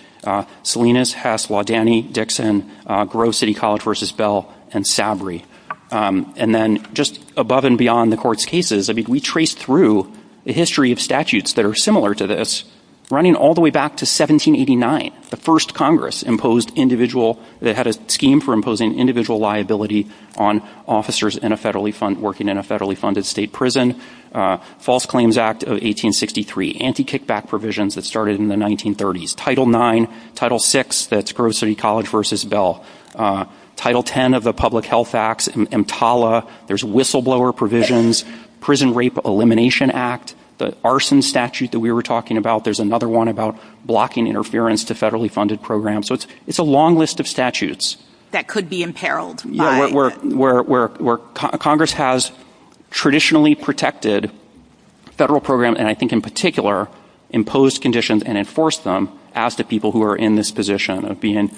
Salinas, Hess, Laudani, Dixon, Grove City College v. Bell, and Sabry. And then just above and beyond the court's cases, I mean, we traced through a history of statutes that are similar to this, running all the way back to 1789, the first Congress imposed individual, that had a scheme for imposing individual liability on officers working in a federally funded state prison, False Claims Act of 1863, anti-kickback provisions that started in the 1930s, Title IX, Title VI, that's Grove City College v. Bell, Title X of the Public Health Act, EMTALA, there's whistleblower provisions, Prison Rape Elimination Act, the arson statute that we were talking about, there's another one about blocking interference to federally funded programs, so it's a long list of statutes. That could be imperiled. Yeah, where Congress has traditionally protected federal programs, and I think in particular imposed conditions and enforced them, as the people who are in this position of being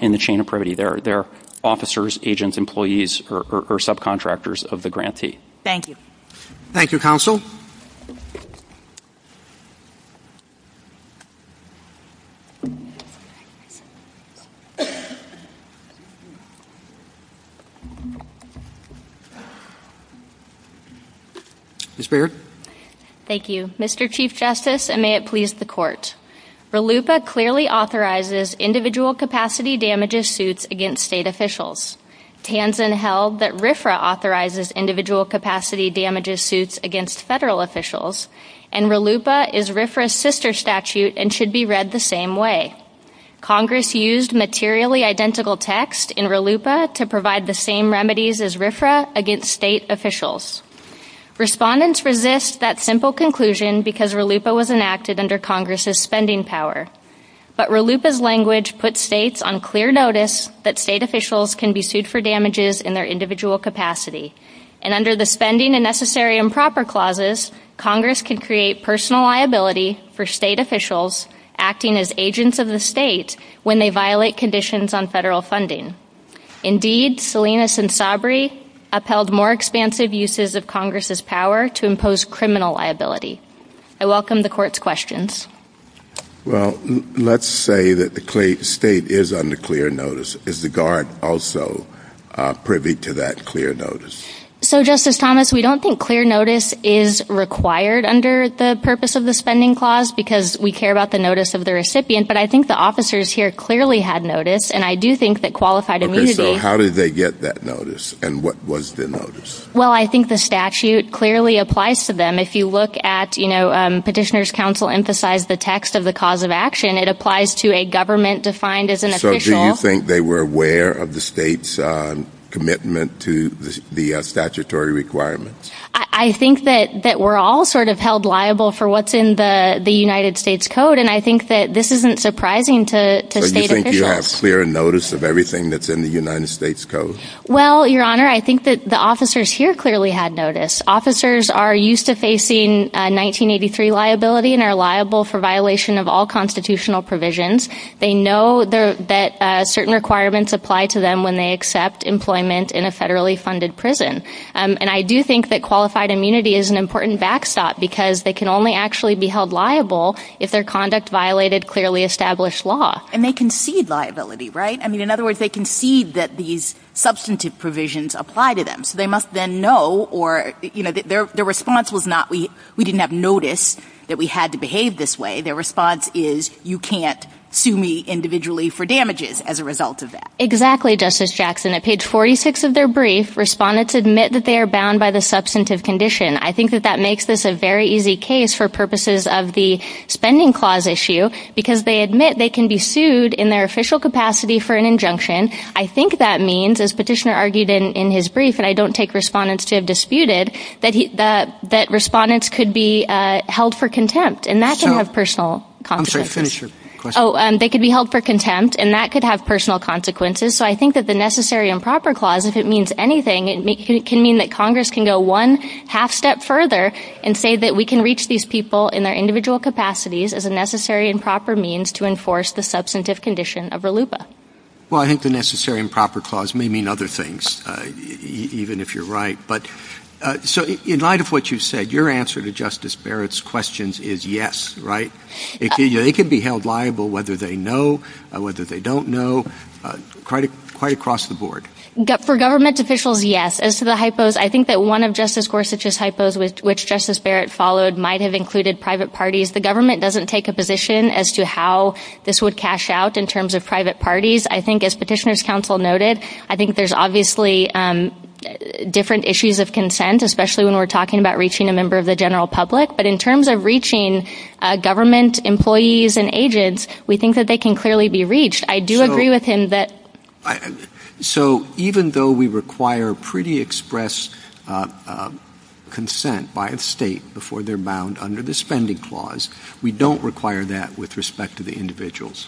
in the chain of privity, they're officers, agents, employees, or subcontractors of the grantee. Thank you. Thank you, Counsel. Ms. Briggert. Thank you. Mr. Chief Justice, and may it please the Court, RLUIPA clearly authorizes individual capacity damages suits against state officials. TANZAN held that RFRA authorizes individual capacity damages suits against federal officials, and RLUIPA is RFRA's sister state agency. Congress used materially identical text in RLUIPA to provide the same remedies as RFRA against state officials. Respondents resist that simple conclusion because RLUIPA was enacted under Congress's spending power. But RLUIPA's language puts states on clear notice that state officials can be sued for damages in their individual capacity. And under the spending and necessary and proper clauses, Congress can create personal liability for state officials acting as agents of the state when they violate conditions on federal funding. Indeed, Salinas and Sabri upheld more expansive uses of Congress's power to impose criminal liability. I welcome the Court's questions. Well, let's say that the state is under clear notice. Is the Guard also privy to that clear notice? So, Justice Thomas, we don't think clear notice is required under the purpose of the spending clause because we care about the notice of the recipient, but I think the officers here clearly had notice, and I do think that qualified immunity... Okay, so how did they get that notice, and what was the notice? Well, I think the statute clearly applies to them. If you look at, you know, petitioner's counsel emphasized the text of the cause of action, it applies to a government defined as an official. Do you think they were aware of the state's commitment to the statutory requirements? I think that we're all sort of held liable for what's in the United States Code, and I think that this isn't surprising to state officials. So you think you have clear notice of everything that's in the United States Code? Well, Your Honor, I think that the officers here clearly had notice. Officers are used to facing 1983 liability and are liable for violation of all constitutional provisions. They know that certain requirements apply to them when they accept employment in a federally funded prison, and I do think that qualified immunity is an important backstop because they can only actually be held liable if their conduct violated clearly established law. And they concede liability, right? I mean, in other words, they concede that these substantive provisions apply to them, so they must then know or, you know, their response was not, we didn't have notice that we had to behave this way. Their response is, you can't sue me individually for damages as a result of that. Exactly, Justice Jackson. At page 46 of their brief, respondents admit that they are bound by the substantive condition. I think that that makes this a very easy case for purposes of the spending clause issue because they admit they can be sued in their official capacity for an injunction. I think that means, as Petitioner argued in his brief, and I don't take respondents to have disputed, that respondents could be held for contempt, and that can have personal consequences. I'm sorry, finish your question. Oh, they could be held for contempt, and that could have personal consequences. So I think that the necessary and proper clause, if it means anything, it can mean that Congress can go one half step further and say that we can reach these people in their individual capacities as a necessary and proper means to enforce the substantive condition of RLUIPA. Well, I think the necessary and proper clause may mean other things, even if you're right. So in light of what you said, your answer to Justice Barrett's questions is yes, right? They could be held liable whether they know, whether they don't know, quite across the board. For government officials, yes. As to the hypos, I think that one of Justice Gorsuch's hypos, which Justice Barrett followed, might have included private parties. The government doesn't take a position as to how this would cash out in terms of private parties. I think, as Petitioner's Counsel noted, I think there's obviously different issues of consent, especially when we're talking about reaching a member of the general public. But in terms of reaching government employees and agents, we think that they can clearly be reached. I do agree with him that... So even though we require pretty expressed consent by a state before they're bound under the spending clause, we don't require that with respect to the individuals?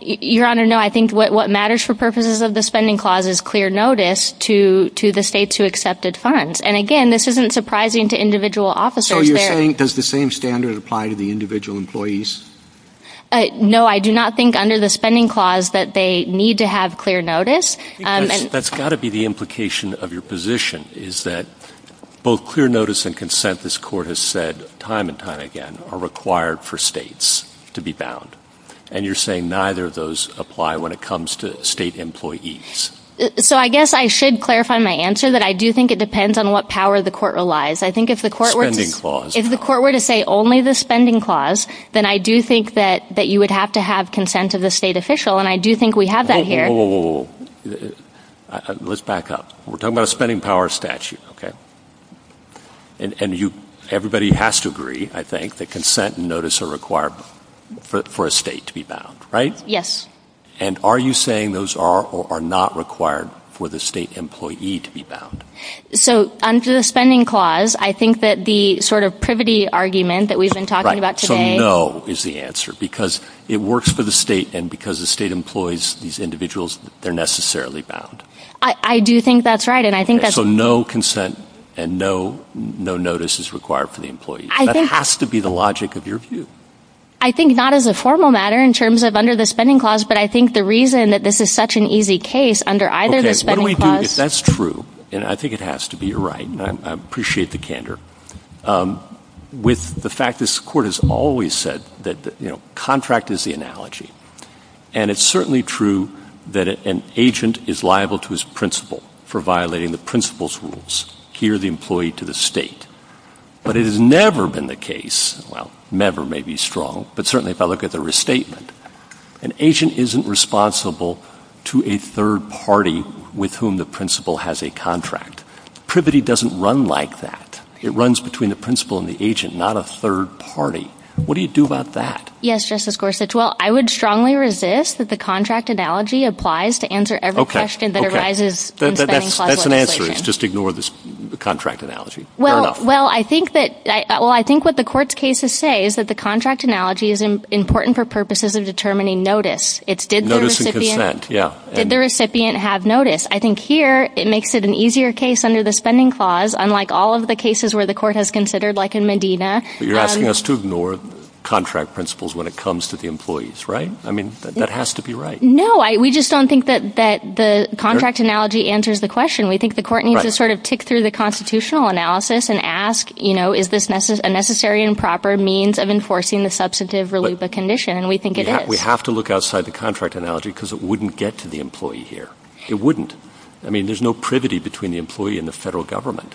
Your Honor, no. I think what matters for purposes of the spending clause is clear notice to the states who accepted funds. And again, this isn't surprising to individual officers. So you're saying, does the same standard apply to the individual employees? No, I do not think under the spending clause that they need to have clear notice. That's got to be the implication of your position, is that both clear notice and consent, this Court has said time and time again, are required for states to be bound. And you're saying neither of those apply when it comes to state employees. So I guess I should clarify my answer that I do think it depends on what power the Court relies. I think if the Court were... Spending clause. If the Court were to say only the spending clause, then I do think that you would have to have consent of the state official, and I do think we have that here. Whoa, whoa, whoa. Let's back up. We're talking about a spending power statute, okay? And everybody has to agree, I think, that consent and notice are required. For a state to be bound, right? Yes. And are you saying those are or are not required for the state employee to be bound? So under the spending clause, I think that the sort of privity argument that we've been talking about today... Right, so no is the answer, because it works for the state, and because the state employs these individuals, they're necessarily bound. I do think that's right, and I think that's... So no consent and no notice is required for the employee. That has to be the logic of your view. I think not as a formal matter in terms of under the spending clause, but I think the reason that this is such an easy case under either the spending clause... Okay, so what do we do if that's true, and I think it has to be, you're right, and I appreciate the candor, with the fact this Court has always said that, you know, contract is the analogy. And it's certainly true that an agent is liable to his principal for violating the principal's rules, here the employee to the state. But it has never been the case, well, never may be strong, but certainly if I look at the restatement, an agent isn't responsible to a third party with whom the principal has a contract. Privity doesn't run like that. It runs between the principal and the agent, not a third party. What do you do about that? Yes, Justice Gorsuch, well, I would strongly resist that the contract analogy applies to answer every question that arises in the spending clause legislation. Okay, that's an answer, just ignore the contract analogy. Well, I think that, well, I think what the Court's cases say is that the contract analogy is important for purposes of determining notice. It's did the recipient... Notice and consent, yeah. Did the recipient have notice? I think here it makes it an easier case under the spending clause, unlike all of the cases where the Court has considered, like in Medina. You're asking us to ignore contract principles when it comes to the employees, right? I mean, that has to be right. No, we just don't think that the contract analogy answers the question. We think the Court needs to sort of take through the constitutional analysis and ask, you know, is this a necessary and proper means of enforcing the substantive relief of condition? We think it is. We have to look outside the contract analogy because it wouldn't get to the employee here. It wouldn't. I mean, there's no privity between the employee and the federal government.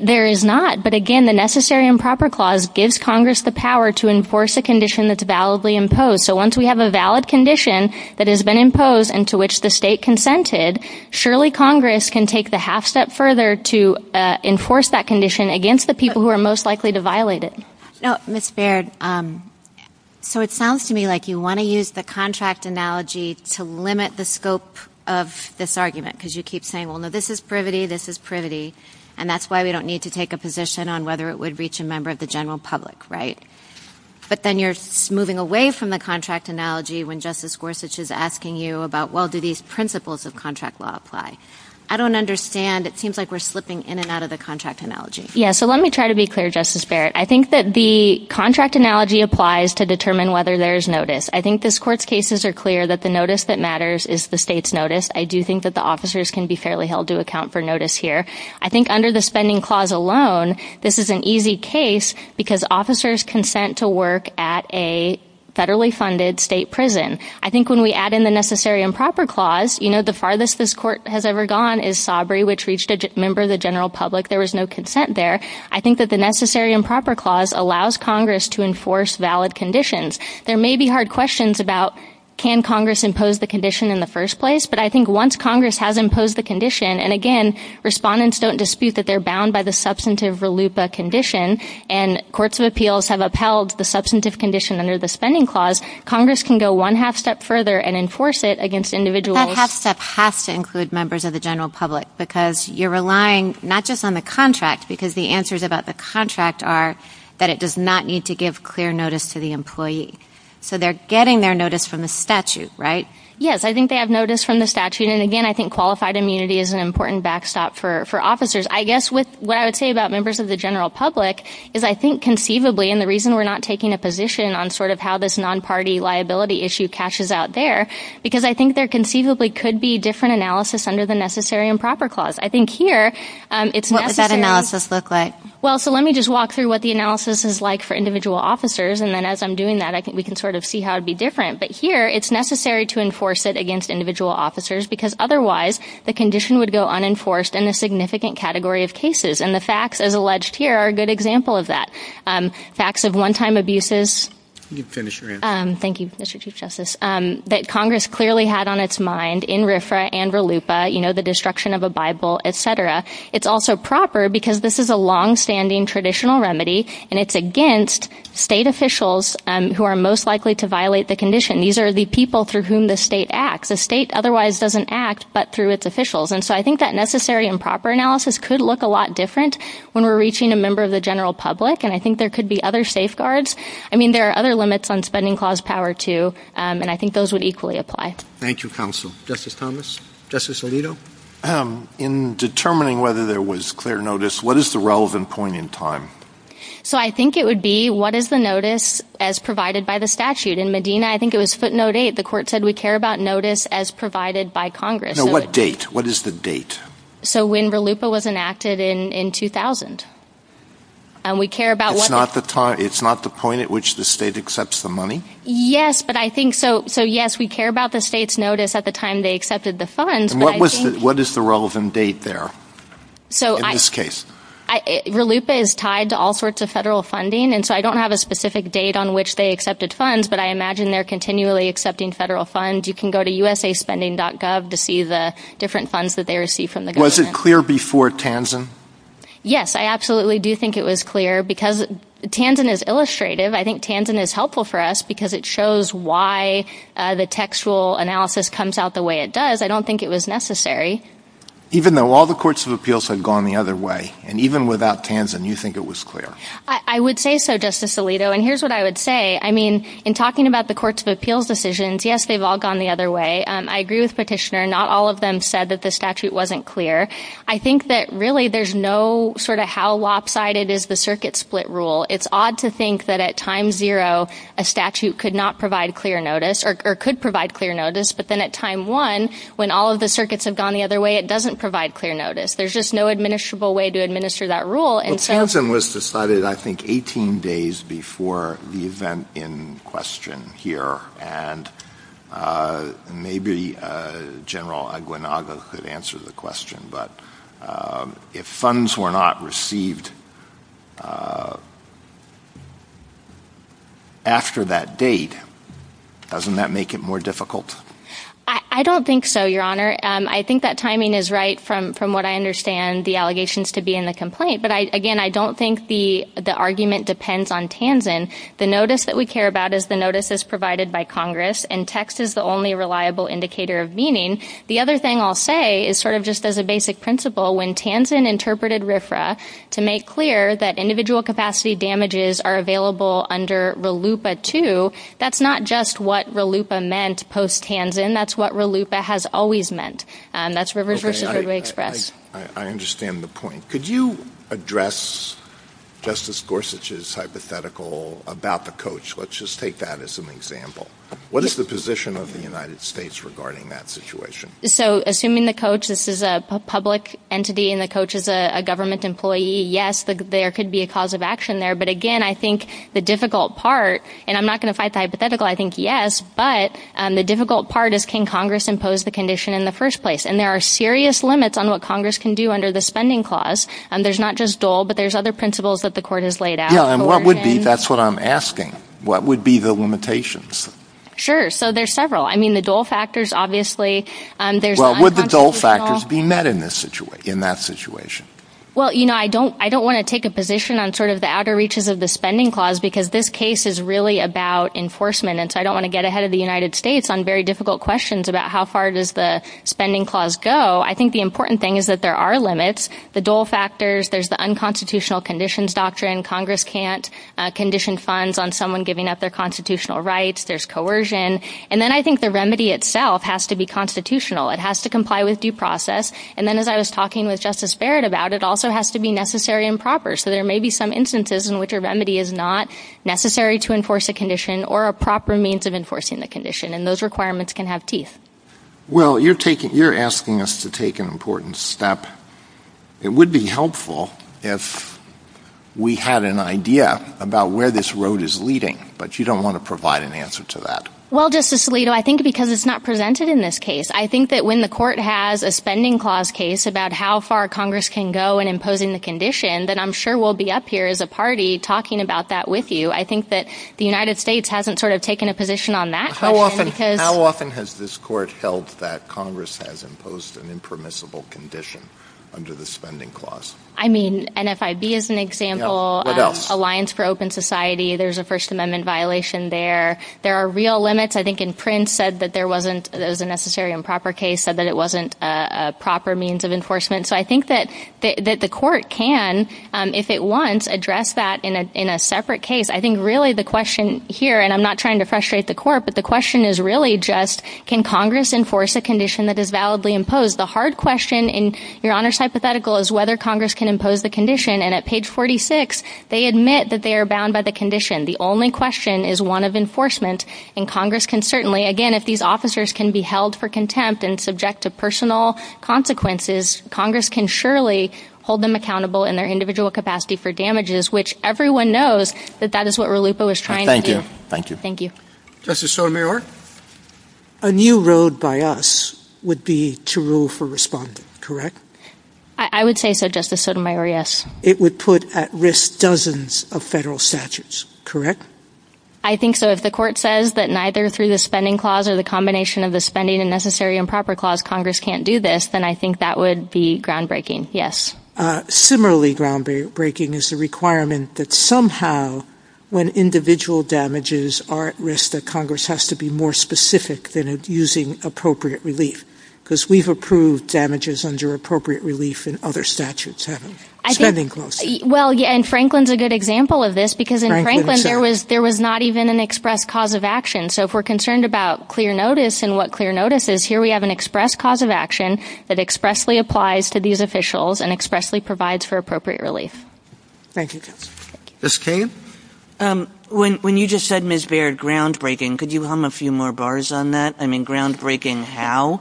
There is not, but again, the necessary and proper clause gives Congress the power to enforce a condition that's validly imposed. So once we have a valid condition that has been imposed and to which the state consented, surely Congress can take the half step further to enforce that condition against the people who are most likely to violate it. Ms. Baird, so it sounds to me like you want to use the contract analogy to limit the scope of this argument because you keep saying, well, no, this is privity, this is privity, and that's why we don't need to take a position on whether it would reach a member of the general public, right? But then you're moving away from the contract analogy when Justice Gorsuch is asking you about, well, do these principles of contract law apply? I don't understand. It seems like we're slipping in and out of the contract analogy. Yeah, so let me try to be clear, Justice Baird. I think that the contract analogy applies to determine whether there is notice. I think this Court's cases are clear that the notice that matters is the state's notice. I do think that the officers can be fairly held to account for notice here. I think under the spending clause alone, this is an easy case because officers consent to work at a federally funded state prison. I think when we add in the necessary and proper clause, the farthest this Court has ever gone is Sabri, which reached a member of the general public. There was no consent there. I think that the necessary and proper clause allows Congress to enforce valid conditions. There may be hard questions about can Congress impose the condition in the first place, but I think once Congress has imposed the condition, and again, respondents don't dispute that they're bound by the substantive RLUIPA condition, and courts of appeals have upheld the substantive condition under the spending clause, Congress can go one half step further and enforce it against individuals. That half step has to include members of the general public because you're relying not just on the contract because the answers about the contract are that it does not need to give clear notice to the employee. So they're getting their notice from the statute, right? Yes, I think they have notice from the statute, and again, I think qualified immunity is an important backstop for officers. I guess what I would say about members of the general public is I think conceivably, and the reason we're not taking a position on sort of how this non-party liability issue cashes out there, because I think there conceivably could be different analysis under the necessary and proper clause. I think here, it's necessary... What would that analysis look like? Well, so let me just walk through what the analysis is like for individual officers, and then as I'm doing that, I think we can sort of see how it would be different. But here, it's necessary to enforce it against individual officers because otherwise the condition would go unenforced in a significant category of cases, and the facts, as alleged here, are a good example of that. Facts of one-time abuses... You can finish your answer. Thank you, Mr. Chief Justice. That Congress clearly had on its mind in RFRA and RLUPA, you know, the destruction of a Bible, et cetera. It's also proper because this is a long-standing traditional remedy, and it's against state officials who are most likely to violate the condition. These are the people through whom the state acts. The state otherwise doesn't act but through its officials, and so I think that necessary and proper analysis could look a lot different when we're reaching a member of the general public, and I think there could be other safeguards. I mean, there are other limits on spending clause power, too, and I think those would equally apply. Thank you, counsel. Justice Thomas? Justice Alito? In determining whether there was clear notice, what is the relevant point in time? So I think it would be what is the notice as provided by the statute. In Medina, I think it was footnote 8. The court said we care about notice as provided by Congress. Now, what date? What is the date? So when RLUPA was enacted in 2000. It's not the point at which the state accepts the money? Yes, but I think so. So, yes, we care about the state's notice at the time they accepted the funds. What is the relevant date there in this case? RLUPA is tied to all sorts of federal funding, and so I don't have a specific date on which they accepted funds, but I imagine they're continually accepting federal funds. You can go to usaspending.gov to see the different funds that they receive from the government. Was it clear before Tanzan? Yes, I absolutely do think it was clear because Tanzan is illustrative. I think Tanzan is helpful for us because it shows why the textual analysis comes out the way it does. I don't think it was necessary. Even though all the courts of appeals had gone the other way, and even without Tanzan, you think it was clear? I would say so, Justice Alito, and here's what I would say. I mean, in talking about the courts of appeals decisions, yes, they've all gone the other way. I agree with Petitioner. Not all of them said that the statute wasn't clear. I think that really there's no sort of how lopsided is the circuit split rule. It's odd to think that at time zero, a statute could not provide clear notice or could provide clear notice, but then at time one, when all of the circuits have gone the other way, it doesn't provide clear notice. There's just no administrable way to administer that rule. Tanzan was decided, I think, 18 days before the event in question here, and maybe General Aguinaldo could answer the question, but if funds were not received after that date, doesn't that make it more difficult? I don't think so, Your Honor. I think that timing is right from what I understand the allegations to be in the complaint, but, again, I don't think the argument depends on Tanzan. The notice that we care about is the notice that's provided by Congress, and text is the only reliable indicator of meaning. The other thing I'll say is sort of just as a basic principle, when Tanzan interpreted RFRA to make clear that individual capacity damages are available under RLUIPA II, that's not just what RLUIPA meant post-Tanzan. That's what RLUIPA has always meant. That's RFRA. I understand the point. Could you address Justice Gorsuch's hypothetical about the coach? Let's just take that as an example. What is the position of the United States regarding that situation? Assuming the coach is a public entity and the coach is a government employee, yes, there could be a cause of action there, but, again, I think the difficult part, and I'm not going to fight the hypothetical, I think yes, but the difficult part is can Congress impose the condition in the first place, and there are serious limits on what Congress can do under the spending clause. There's not just dole, but there's other principles that the court has laid out. Yeah, and what would be, that's what I'm asking, what would be the limitations? Sure. So there's several. I mean, the dole factors, obviously, there's constitutional. Well, would the dole factors be met in that situation? Well, you know, I don't want to take a position on sort of the outer reaches of the spending clause because this case is really about enforcement, and so I don't want to get ahead of the United States on very difficult questions about how far does the spending clause go. I think the important thing is that there are limits. The dole factors, there's the unconstitutional conditions doctrine. Congress can't condition funds on someone giving up their constitutional rights. There's coercion. And then I think the remedy itself has to be constitutional. It has to comply with due process. And then as I was talking with Justice Barrett about it, it also has to be necessary and proper. So there may be some instances in which a remedy is not necessary to enforce a condition or a proper means of enforcing the condition, and those requirements can have teeth. Well, you're asking us to take an important step. It would be helpful if we had an idea about where this road is leading, but you don't want to provide an answer to that. Well, Justice Alito, I think because it's not presented in this case. I think that when the court has a spending clause case about how far Congress can go in imposing the condition, then I'm sure we'll be up here as a party talking about that with you. I think that the United States hasn't sort of taken a position on that. How often has this court felt that Congress has imposed an impermissible condition under the spending clause? I mean, NFIB is an example. What else? Alliance for Open Society. There's a First Amendment violation there. There are real limits. I think in Prince said that there was a necessary and proper case, said that it wasn't a proper means of enforcement. So I think that the court can, if it wants, address that in a separate case. I think really the question here, and I'm not trying to frustrate the court, but the question is really just can Congress enforce a condition that is validly imposed? The hard question in Your Honor's hypothetical is whether Congress can impose the condition, and at page 46 they admit that they are bound by the condition. The only question is one of enforcement, and Congress can certainly, again, if these officers can be held for contempt and subject to personal consequences, Congress can surely hold them accountable in their individual capacity for damages, which everyone knows that that is what Ralupo was trying to do. Thank you. Thank you. Justice Sotomayor? A new road by us would be to rule for respondent, correct? I would say so, Justice Sotomayor, yes. It would put at risk dozens of federal statutes, correct? I think so. If the court says that neither through the spending clause or the combination of the spending and necessary and proper clause Congress can't do this, then I think that would be groundbreaking, yes. Similarly groundbreaking is the requirement that somehow when individual damages are at risk that Congress has to be more specific than using appropriate relief, because we've approved damages under appropriate relief in other statutes, haven't we? And Franklin's a good example of this, because in Franklin there was not even an express cause of action, so if we're concerned about clear notice and what clear notice is, here we have an express cause of action that expressly applies to these officials and expressly provides for appropriate relief. Thank you, Justice Sotomayor. Ms. Cave? When you just said, Ms. Baird, groundbreaking, could you hum a few more bars on that? I mean, groundbreaking how?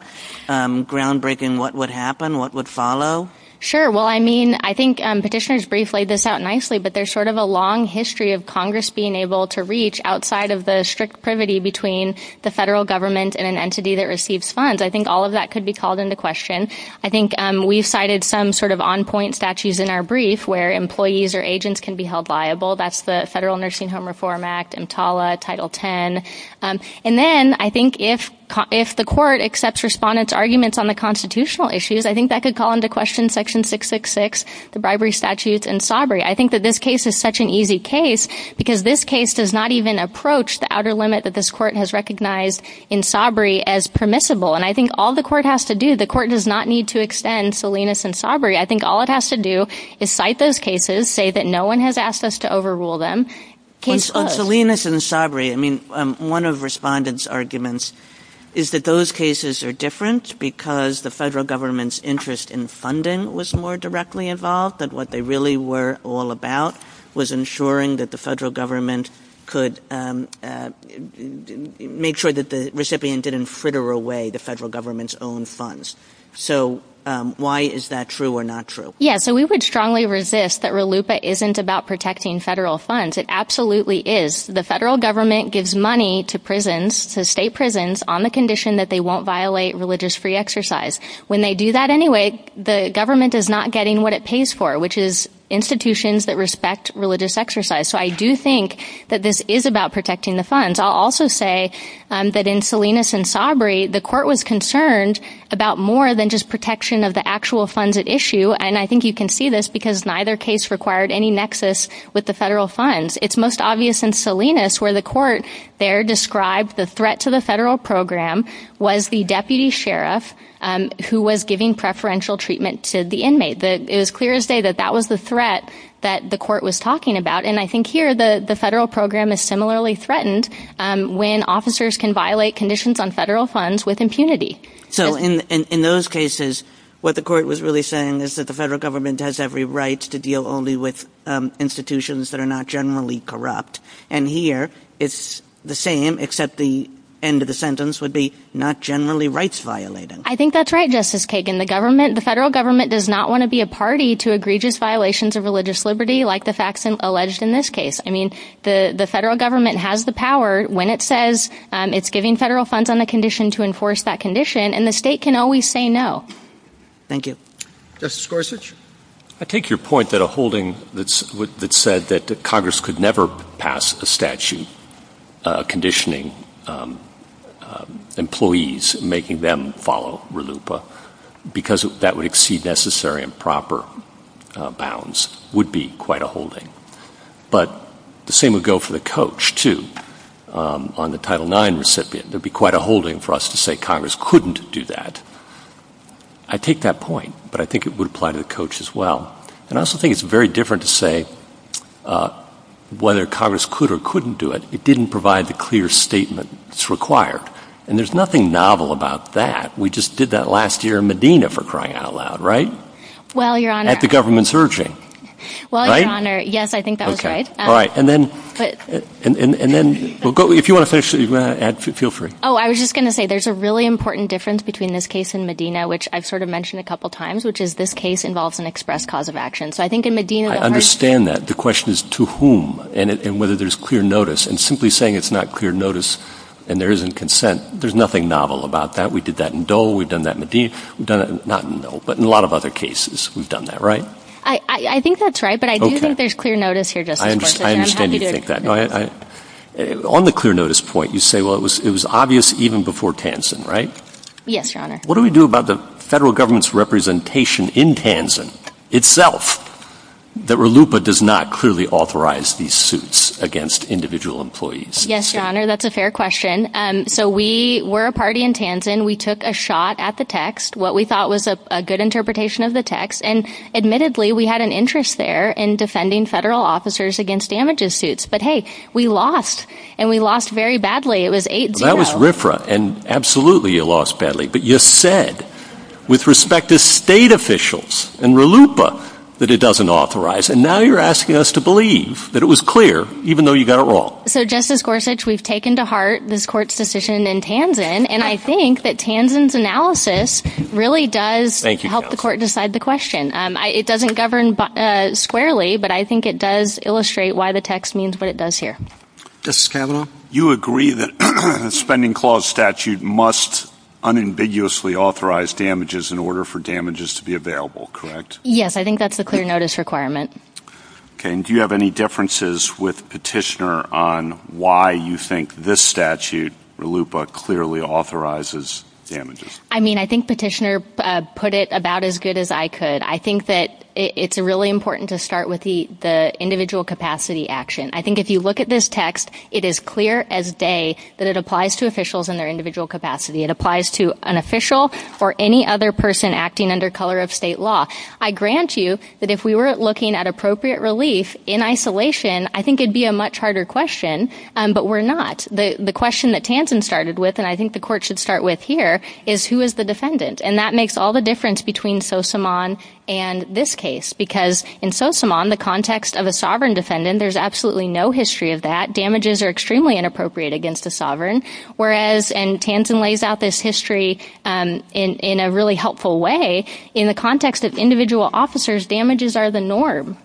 Groundbreaking what would happen, what would follow? Sure. Well, I mean, I think petitioners briefly laid this out nicely, but there's sort of a long history of Congress being able to reach outside of the strict privity between the federal government and an entity that receives funds. I think all of that could be called into question. I think we cited some sort of on-point statutes in our brief where employees or agents can be held liable. That's the Federal Nursing Home Reform Act, EMTALA, Title X. And then I think if the court accepts respondents' arguments on the constitutional issues, I think that could call into question Section 666, the bribery statutes, and sobriety. I think that this case is such an easy case because this case does not even approach the outer limit that this court has recognized in sobriety as permissible. And I think all the court has to do, the court does not need to extend Salinas and sobriety. I think all it has to do is cite those cases, say that no one has asked us to overrule them. Salinas and sobriety, I mean, one of respondents' arguments is that those cases are different because the federal government's interest in funding was more directly involved and what they really were all about was ensuring that the federal government could make sure that the recipient didn't fritter away the federal government's own funds. So why is that true or not true? Yeah, so we would strongly resist that RLUIPA isn't about protecting federal funds. It absolutely is. The federal government gives money to prisons, to state prisons, on the condition that they won't violate religious free exercise. When they do that anyway, the government is not getting what it pays for, which is institutions that respect religious exercise. So I do think that this is about protecting the funds. I'll also say that in Salinas and sobriety, the court was concerned about more than just protection of the actual funds at issue, and I think you can see this because neither case required any nexus with the federal funds. It's most obvious in Salinas where the court there described the threat to the federal program was the deputy sheriff who was giving preferential treatment to the inmate. It was clear as day that that was the threat that the court was talking about, and I think here the federal program is similarly threatened when officers can violate conditions on federal funds with impunity. So in those cases, what the court was really saying is that the federal government has every right to deal only with institutions that are not generally corrupt, and here it's the same except the end of the sentence would be not generally rights violated. I think that's right, Justice Kagan. The federal government does not want to be a party to egregious violations of religious liberty like the facts alleged in this case. I mean, the federal government has the power when it says it's giving federal funds on the condition to enforce that condition, and the state can always say no. Thank you. Justice Gorsuch? I take your point that a holding that said that Congress could never pass a statute conditioning employees and making them follow RLUIPA because that would exceed necessary and proper bounds would be quite a holding. But the same would go for the coach, too. On the Title IX recipient, it would be quite a holding for us to say Congress couldn't do that. I take that point, but I think it would apply to the coach as well. And I also think it's very different to say whether Congress could or couldn't do it. It didn't provide the clear statement that's required, and there's nothing novel about that. We just did that last year in Medina, for crying out loud, right? Well, Your Honor. At the government's urging. Well, Your Honor, yes, I think that was right. All right, and then if you want to add, feel free. Oh, I was just going to say there's a really important difference between this case in Medina, which I've sort of mentioned a couple times, which is this case involves an express cause of action. So I think in Medina. I understand that. The question is to whom and whether there's clear notice. And simply saying it's not clear notice and there isn't consent, there's nothing novel about that. We did that in Dole. We've done that in Medina. We've done it not in Dole, but in a lot of other cases we've done that, right? I think that's right, but I do think there's clear notice here, Justice Gorsuch. I understand you think that. On the clear notice point, you say, well, it was obvious even before Tansin, right? Yes, Your Honor. What do we do about the federal government's representation in Tansin itself that RLUIPA does not clearly authorize these suits against individual employees? Yes, Your Honor, that's a fair question. So we were a party in Tansin. We took a shot at the text, what we thought was a good interpretation of the text. And admittedly, we had an interest there in defending federal officers against damages suits. But, hey, we lost, and we lost very badly. It was 8-0. That was RFRA, and absolutely you lost badly. But you said, with respect to state officials and RLUIPA, that it doesn't authorize. And now you're asking us to believe that it was clear, even though you got it wrong. So, Justice Gorsuch, we've taken to heart this court's decision in Tansin, and I think that Tansin's analysis really does help the court decide the question. It doesn't govern squarely, but I think it does illustrate why the text means what it does here. Justice Kavanaugh? You agree that the Spending Clause statute must unambiguously authorize damages in order for damages to be available, correct? Yes, I think that's the clear notice requirement. Okay, and do you have any differences with Petitioner on why you think this statute, RLUIPA, clearly authorizes damages? I mean, I think Petitioner put it about as good as I could. I think that it's really important to start with the individual capacity action. I think if you look at this text, it is clear as day that it applies to officials and their individual capacity. It applies to an official or any other person acting under color of state law. I grant you that if we were looking at appropriate relief in isolation, I think it would be a much harder question, but we're not. The question that Tansin started with, and I think the court should start with here, is who is the defendant? And that makes all the difference between Sosamon and this case, because in Sosamon, the context of a sovereign defendant, there's absolutely no history of that. Damages are extremely inappropriate against the sovereign, whereas Tansin lays out this history in a really helpful way. In the context of individual officers, damages are the norm.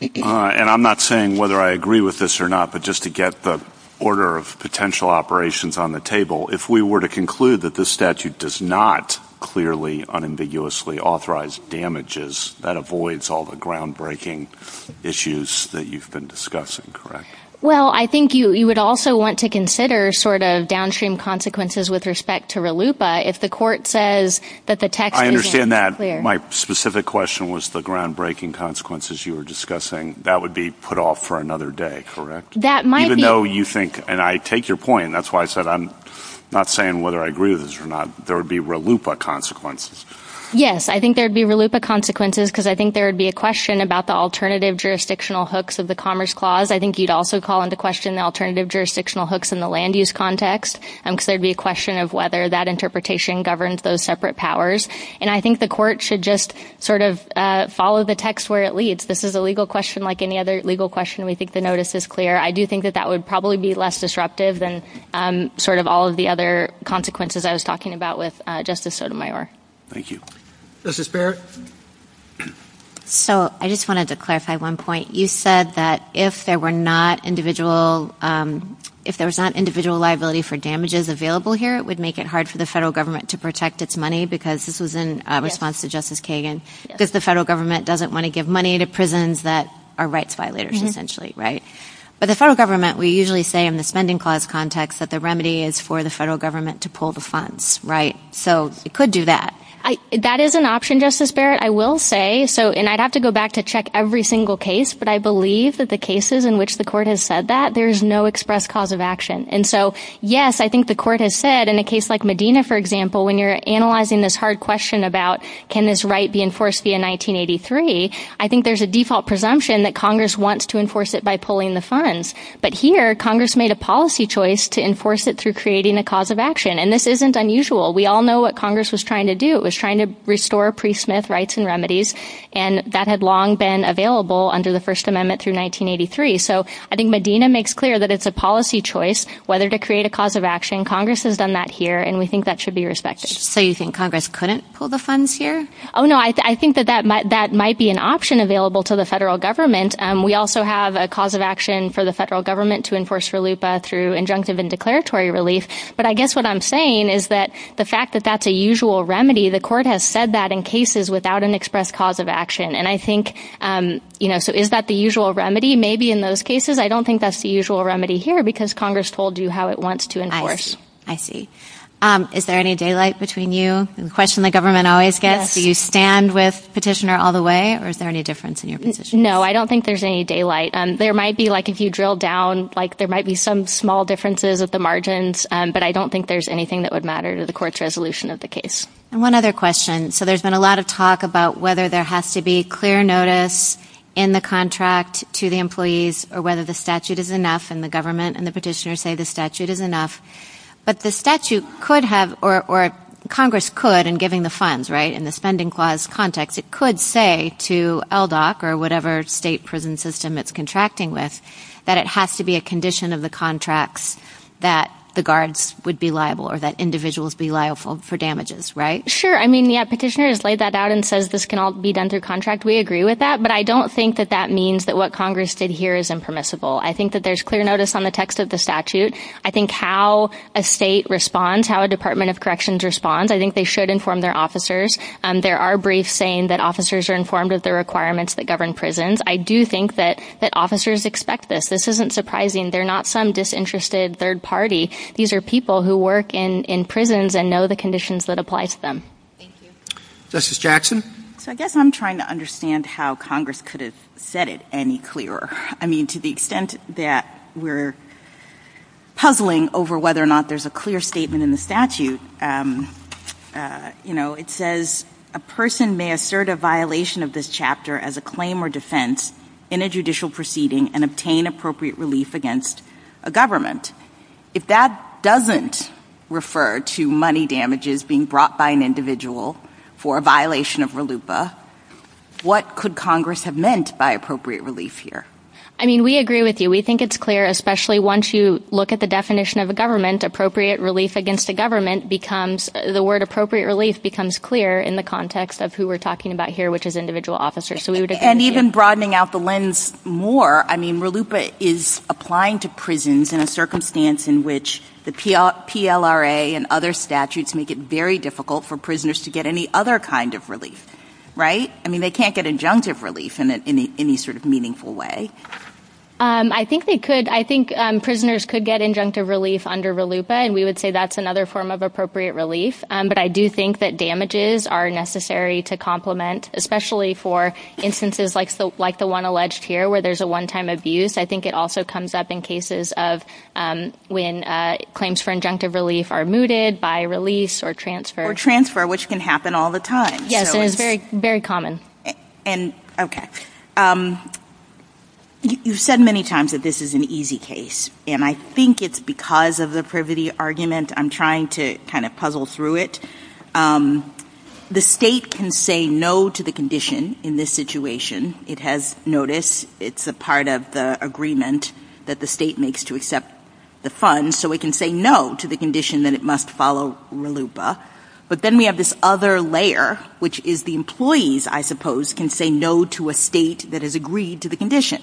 And I'm not saying whether I agree with this or not, but just to get the order of potential operations on the table, if we were to conclude that this statute does not clearly unambiguously authorize damages, that avoids all the groundbreaking issues that you've been discussing, correct? Well, I think you would also want to consider sort of downstream consequences with respect to RLUIPA. If the court says that the text is unclear. I understand that. My specific question was the groundbreaking consequences you were discussing. That would be put off for another day, correct? That might be. Even though you think, and I take your point, that's why I said I'm not saying whether I agree with this or not, there would be RLUIPA consequences. Yes, I think there would be RLUIPA consequences, because I think there would be a question about the alternative jurisdictional hooks of the Commerce Clause. I think you'd also call into question the alternative jurisdictional hooks in the land use context, because there would be a question of whether that interpretation governs those separate powers. And I think the court should just sort of follow the text where it leads. This is a legal question like any other legal question. We think the notice is clear. I do think that that would probably be less disruptive than sort of all of the other consequences I was talking about with Justice Sotomayor. Thank you. Justice Barrett? So I just wanted to clarify one point. You said that if there were not individual liability for damages available here, it would make it hard for the federal government to protect its money, because this was in response to Justice Kagan, if the federal government doesn't want to give money to prisons that are rights violators, essentially, right? But the federal government, we usually say in the Spending Clause context, that the remedy is for the federal government to pull the funds, right? So it could do that. That is an option, Justice Barrett, I will say. And I'd have to go back to check every single case, but I believe that the cases in which the court has said that, there's no express cause of action. And so, yes, I think the court has said in a case like Medina, for example, when you're analyzing this hard question about can this right be enforced via 1983, I think there's a default presumption that Congress wants to enforce it by pulling the funds. But here, Congress made a policy choice to enforce it through creating a cause of action. And this isn't unusual. We all know what Congress was trying to do. It was trying to restore Priest-Smith Rights and Remedies, and that had long been available under the First Amendment through 1983. So I think Medina makes clear that it's a policy choice whether to create a cause of action. Congress has done that here, and we think that should be respected. So you think Congress couldn't pull the funds here? Oh, no. I think that that might be an option available to the federal government. We also have a cause of action for the federal government to enforce for LUPA through injunctive and declaratory relief. But I guess what I'm saying is that the fact that that's a usual remedy, the court has said that in cases without an express cause of action. And I think, you know, is that the usual remedy? Maybe in those cases, I don't think that's the usual remedy here because Congress told you how it wants to enforce. I see. Is there any daylight between you? The question the government always gets. Do you stand with the petitioner all the way, or is there any difference in your position? No, I don't think there's any daylight. There might be, like if you drill down, like there might be some small differences at the margins, but I don't think there's anything that would matter to the court's resolution of the case. And one other question. So there's been a lot of talk about whether there has to be clear notice in the contract to the employees or whether the statute is enough and the government and the petitioner say the statute is enough. But the statute could have, or Congress could in giving the funds, right, in the spending clause context, it could say to LDOC or whatever state prison system it's contracting with that it has to be a condition of the contracts that the guards would be liable or that individuals be liable for damages, right? Sure. I mean, yeah, petitioner has laid that out and says this can all be done through contract. We agree with that. But I don't think that that means that what Congress did here is impermissible. I think that there's clear notice on the text of the statute. I think how a state responds, how a Department of Corrections responds, I think they should inform their officers. There are briefs saying that officers are informed of the requirements that govern prisons. I do think that officers expect this. This isn't surprising. They're not some disinterested third party. These are people who work in prisons and know the conditions that apply to them. Thank you. Justice Jackson? So I guess I'm trying to understand how Congress could have said it any clearer. I mean, to the extent that we're puzzling over whether or not there's a clear statement in the statute, you know, it says a person may assert a violation of this chapter as a claim or defense in a judicial proceeding and obtain appropriate relief against a government. If that doesn't refer to money damages being brought by an individual for a violation of RLUIPA, what could Congress have meant by appropriate relief here? I mean, we agree with you. We think it's clear, especially once you look at the definition of a government, appropriate relief against a government becomes, the word appropriate relief becomes clear in the context of who we're talking about here, which is individual officers. And even broadening out the lens more, I mean, RLUIPA is applying to prisons in a circumstance in which the PLRA and other statutes make it very difficult for prisoners to get any other kind of relief, right? I mean, they can't get injunctive relief in any sort of meaningful way. I think they could. I think prisoners could get injunctive relief under RLUIPA, and we would say that's another form of appropriate relief. But I do think that damages are necessary to complement, especially for instances like the one alleged here where there's a one-time abuse. I think it also comes up in cases of when claims for injunctive relief are mooted by release or transfer. Or transfer, which can happen all the time. Yes, very common. Okay. You've said many times that this is an easy case, and I think it's because of the privity argument. I'm trying to kind of puzzle through it. The state can say no to the condition in this situation. It has noticed it's a part of the agreement that the state makes to accept the funds, so it can say no to the condition that it must follow RLUIPA. But then we have this other layer, which is the employees, I suppose, can say no to a state that has agreed to the condition,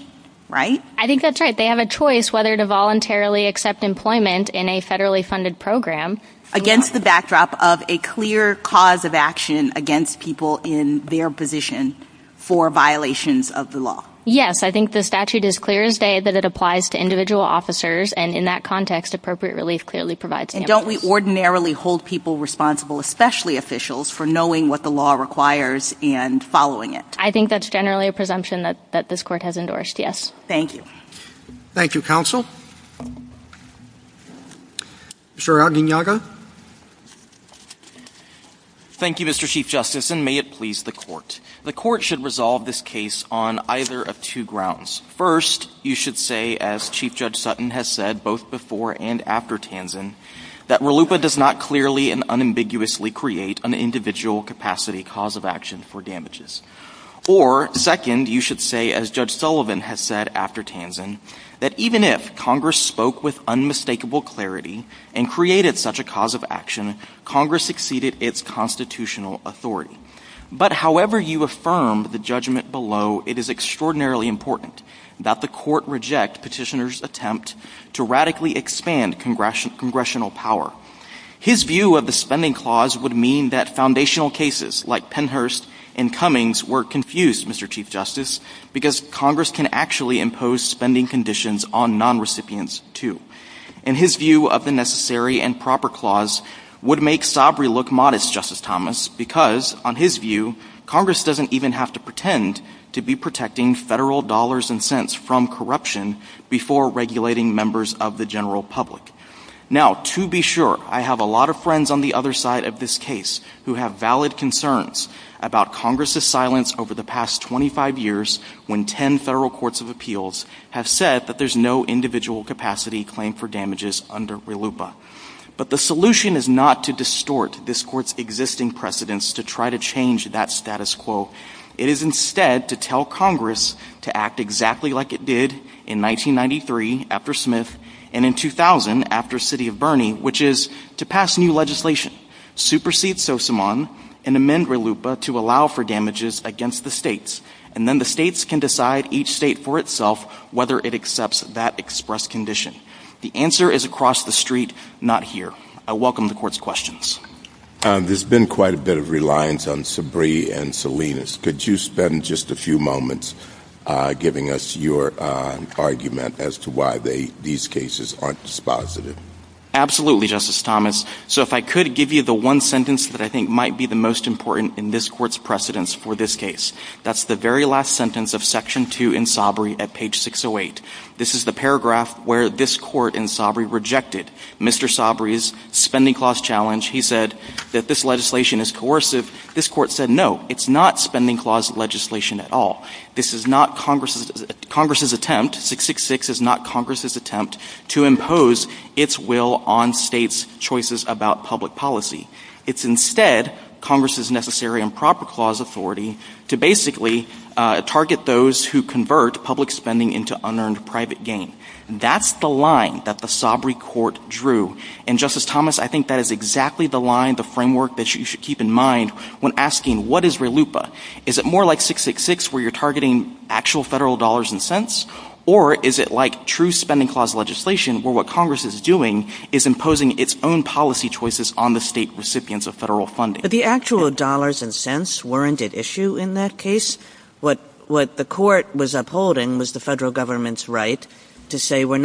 right? I think that's right. They have a choice whether to voluntarily accept employment in a federally funded program. Against the backdrop of a clear cause of action against people in their position for violations of the law. Yes. I think the statute is clear as day that it applies to individual officers, and in that context, appropriate relief clearly provides that. And don't we ordinarily hold people responsible, especially officials, for knowing what the law requires and following it? I think that's generally a presumption that this court has endorsed, yes. Thank you. Thank you, counsel. Mr. Ardeniaga? Thank you, Mr. Chief Justice, and may it please the court. The court should resolve this case on either of two grounds. First, you should say, as Chief Judge Sutton has said both before and after Tansen, that RLUIPA does not clearly and unambiguously create an individual capacity cause of action for damages. Or, second, you should say, as Judge Sullivan has said after Tansen, that even if Congress spoke with unmistakable clarity and created such a cause of action, Congress exceeded its constitutional authority. But however you affirm the judgment below, it is extraordinarily important that the court reject Petitioner's attempt to radically expand congressional power. His view of the spending clause would mean that foundational cases like Pennhurst and Cummings were confused, Mr. Chief Justice, because Congress can actually impose spending conditions on non-recipients too. And his view of the necessary and proper clause would make Sabri look modest, Justice Thomas, because, on his view, Congress doesn't even have to pretend to be protecting federal dollars and cents from corruption before regulating members of the general public. Now, to be sure, I have a lot of friends on the other side of this case who have valid concerns about Congress's silence over the past 25 years when 10 federal courts of appeals have said that there's no individual capacity claim for damages under RLUIPA. But the solution is not to distort this court's existing precedents to try to change that status quo. It is instead to tell Congress to act exactly like it did in 1993 after Smith and in 2000 after City of Bernie, which is to pass new legislation, supersede SOSAMAN, and amend RLUIPA to allow for damages against the states. And then the states can decide, each state for itself, whether it accepts that express condition. The answer is across the street, not here. I welcome the court's questions. There's been quite a bit of reliance on Sabri and Salinas. Could you spend just a few moments giving us your argument as to why these cases aren't dispositive? Absolutely, Justice Thomas. So if I could give you the one sentence that I think might be the most important in this court's precedents for this case. That's the very last sentence of Section 2 in Sabri at page 608. This is the paragraph where this court in Sabri rejected Mr. Sabri's spending clause challenge. He said that this legislation is coercive. This court said, no, it's not spending clause legislation at all. This is not Congress's attempt, 666 is not Congress's attempt to impose its will on states' choices about public policy. It's instead Congress's necessary improper clause authority to basically target those who convert public spending into unearned private gain. That's the line that the Sabri court drew. And Justice Thomas, I think that is exactly the line, the framework that you should keep in mind when asking, what is RLUIPA? Is it more like 666 where you're targeting actual federal dollars and cents? Or is it like true spending clause legislation where what Congress is doing is imposing its own policy choices on the state recipients of federal funding? The actual dollars and cents weren't at issue in that case. What the court was upholding was the federal government's right to say we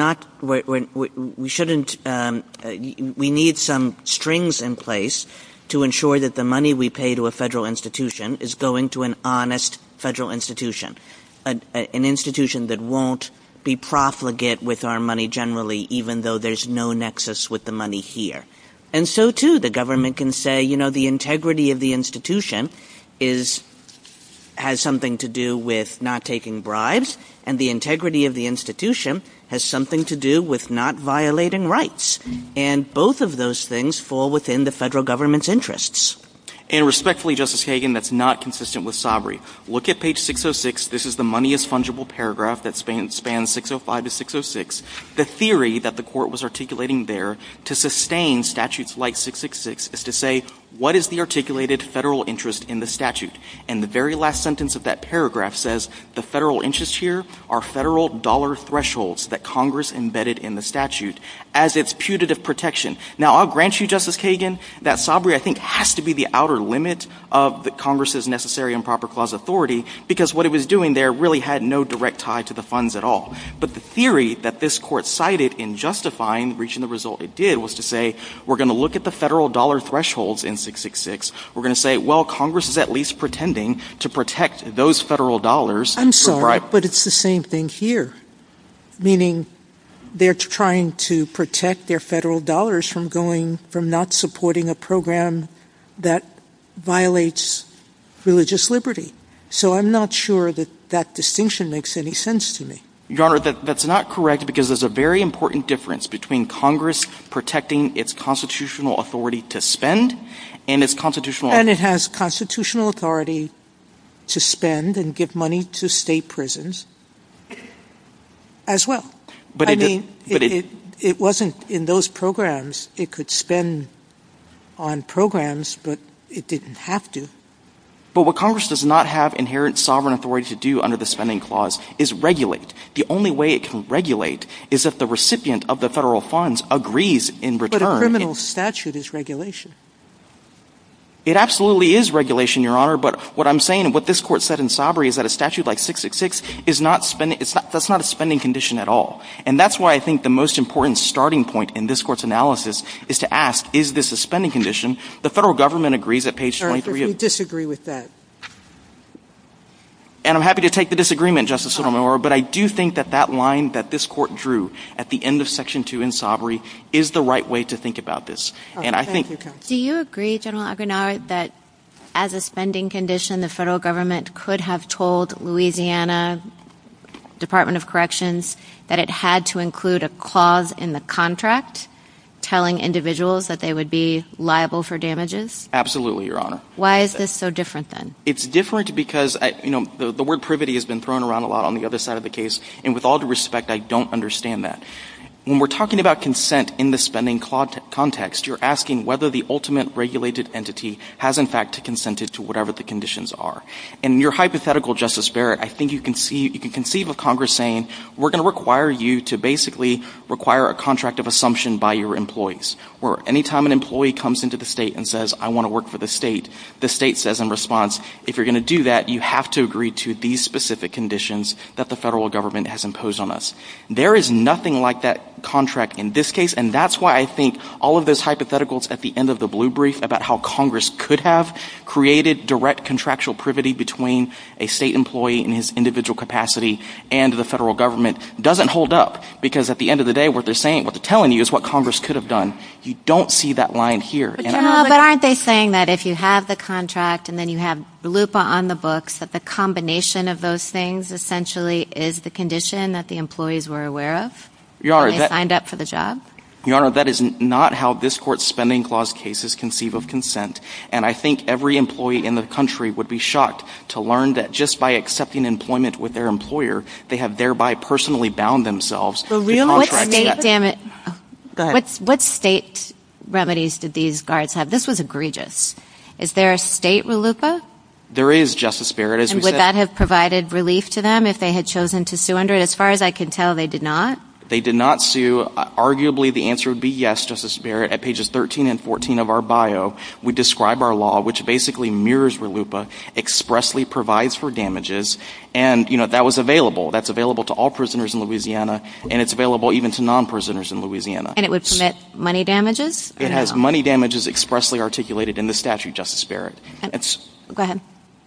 need some strings in place to ensure that the money we pay to a federal institution is going to an honest federal institution, an institution that won't be profligate with our money generally even though there's no nexus with the money here. And so, too, the government can say the integrity of the institution has something to do with not taking bribes, and the integrity of the institution has something to do with not violating rights. And both of those things fall within the federal government's interests. And respectfully, Justice Hagan, that's not consistent with Sabri. Look at page 606. This is the money is fungible paragraph that spans 605 to 606. The theory that the court was articulating there to sustain statutes like 666 is to say what is the articulated federal interest in the statute? And the very last sentence of that paragraph says the federal interest here are federal dollar thresholds that Congress embedded in the statute as its putative protection. Now, I'll grant you, Justice Hagan, that Sabri I think has to be the outer limit of the Congress's necessary and proper clause authority, because what it was doing there really had no direct tie to the funds at all. But the theory that this court cited in justifying reaching the result it did was to say we're going to look at the federal dollar thresholds in 666. We're going to say, well, Congress is at least pretending to protect those federal dollars. I'm sorry, but it's the same thing here, meaning they're trying to protect their federal dollars from not supporting a program that violates religious liberty. So I'm not sure that that distinction makes any sense to me. Your Honor, that's not correct, because there's a very important difference between Congress protecting its constitutional authority to spend and its constitutional… And it has constitutional authority to spend and give money to state prisons as well. I mean, it wasn't in those programs. It could spend on programs, but it didn't have to. But what Congress does not have inherent sovereign authority to do under the spending clause is regulate. The only way it can regulate is if the recipient of the federal funds agrees in return. But a criminal statute is regulation. It absolutely is regulation, Your Honor, but what I'm saying and what this court said in Sabri is that a statute like 666 is not a spending condition at all. And that's why I think the most important starting point in this court's analysis is to ask, is this a spending condition? The federal government agrees at page 23… Your Honor, we disagree with that. And I'm happy to take the disagreement, Justice Sotomayor, but I do think that that line that this court drew at the end of Section 2 in Sabri is the right way to think about this. Do you agree, General Aguinaldo, that as a spending condition, the federal government could have told Louisiana Department of Corrections that it had to include a clause in the contract telling individuals that they would be liable for damages? Absolutely, Your Honor. Why is this so different then? It's different because the word privity has been thrown around a lot on the other side of the case, and with all due respect, I don't understand that. When we're talking about consent in the spending context, you're asking whether the ultimate regulated entity has in fact consented to whatever the conditions are. In your hypothetical, Justice Barrett, I think you can conceive of Congress saying, we're going to require you to basically require a contract of assumption by your employees, where any time an employee comes into the state and says, I want to work for the state, the state says in response, if you're going to do that, you have to agree to these specific conditions that the federal government has imposed on us. There is nothing like that contract in this case, and that's why I think all of those hypotheticals at the end of the blue brief about how Congress could have created direct contractual privity between a state employee in his individual capacity and the federal government doesn't hold up, because at the end of the day, what they're saying, what they're telling you is what Congress could have done. You don't see that line here. Aren't they saying that if you have the contract and then you have the loop on the books, that the combination of those things essentially is the condition that the employees were aware of when they signed up for the job? Your Honor, that is not how this Court's Spending Clause case is conceived of consent. And I think every employee in the country would be shocked to learn that just by accepting employment with their employer, they have thereby personally bound themselves. What state remedies did these guards have? This was egregious. Is there a state RLUIPA? There is, Justice Barrett. And would that have provided relief to them if they had chosen to sue under it? As far as I can tell, they did not. They did not sue. Arguably, the answer would be yes, Justice Barrett. At pages 13 and 14 of our bio, we describe our law, which basically mirrors RLUIPA, expressly provides for damages, and that was available. That's available to all prisoners in Louisiana, and it's available even to non-prisoners in Louisiana. And it would submit money damages? It has money damages expressly articulated in the statute, Justice Barrett. Go ahead.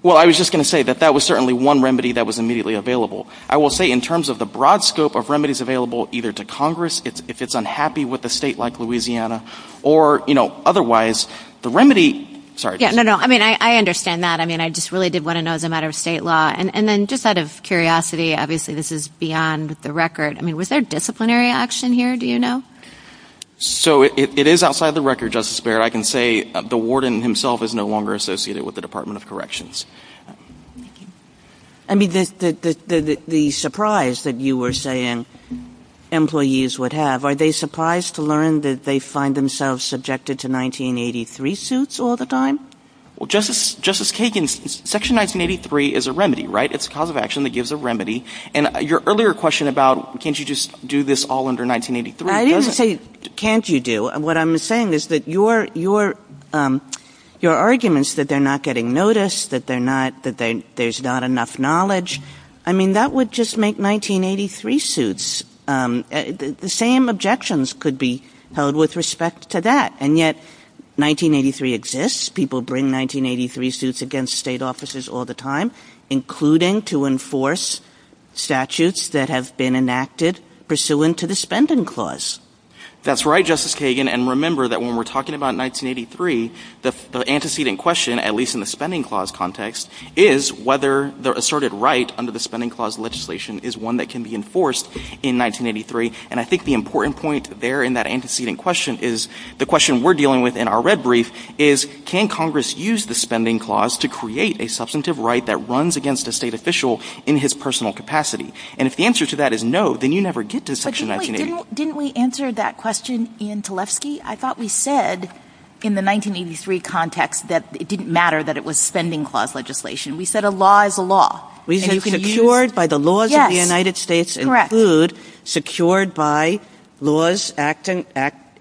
Well, I was just going to say that that was certainly one remedy that was immediately available. I will say in terms of the broad scope of remedies available either to Congress, if it's unhappy with a state like Louisiana, or otherwise, the remedy… No, no. I mean, I understand that. I mean, I just really did want to know as a matter of state law. And then just out of curiosity, obviously, this is beyond the record. I mean, was there disciplinary action here? Do you know? So, it is outside the record, Justice Barrett. I can say the warden himself is no longer associated with the Department of Corrections. I mean, the surprise that you were saying employees would have, are they surprised to learn that they find themselves subjected to 1983 suits all the time? Well, Justice Kagan, Section 1983 is a remedy, right? It's a cause of action that gives a remedy. And your earlier question about can't you just do this all under 1983… I didn't say can't you do. What I'm saying is that your arguments that they're not getting noticed, that there's not enough knowledge, I mean, that would just make 1983 suits. The same objections could be held with respect to that. And yet, 1983 exists. People bring 1983 suits against state offices all the time, including to enforce statutes that have been enacted pursuant to the Spending Clause. That's right, Justice Kagan. And remember that when we're talking about 1983, the antecedent question, at least in the Spending Clause context, is whether the asserted right under the Spending Clause legislation is one that can be enforced in 1983. And I think the important point there in that antecedent question is the question we're dealing with in our red brief is can Congress use the Spending Clause to create a substantive right that runs against a state official in his personal capacity? And if the answer to that is no, then you never get to Section 1983. But didn't we answer that question in Tlefsky? I thought we said in the 1983 context that it didn't matter that it was Spending Clause legislation. We said a law is a law. And you secured by the laws of the United States include secured by laws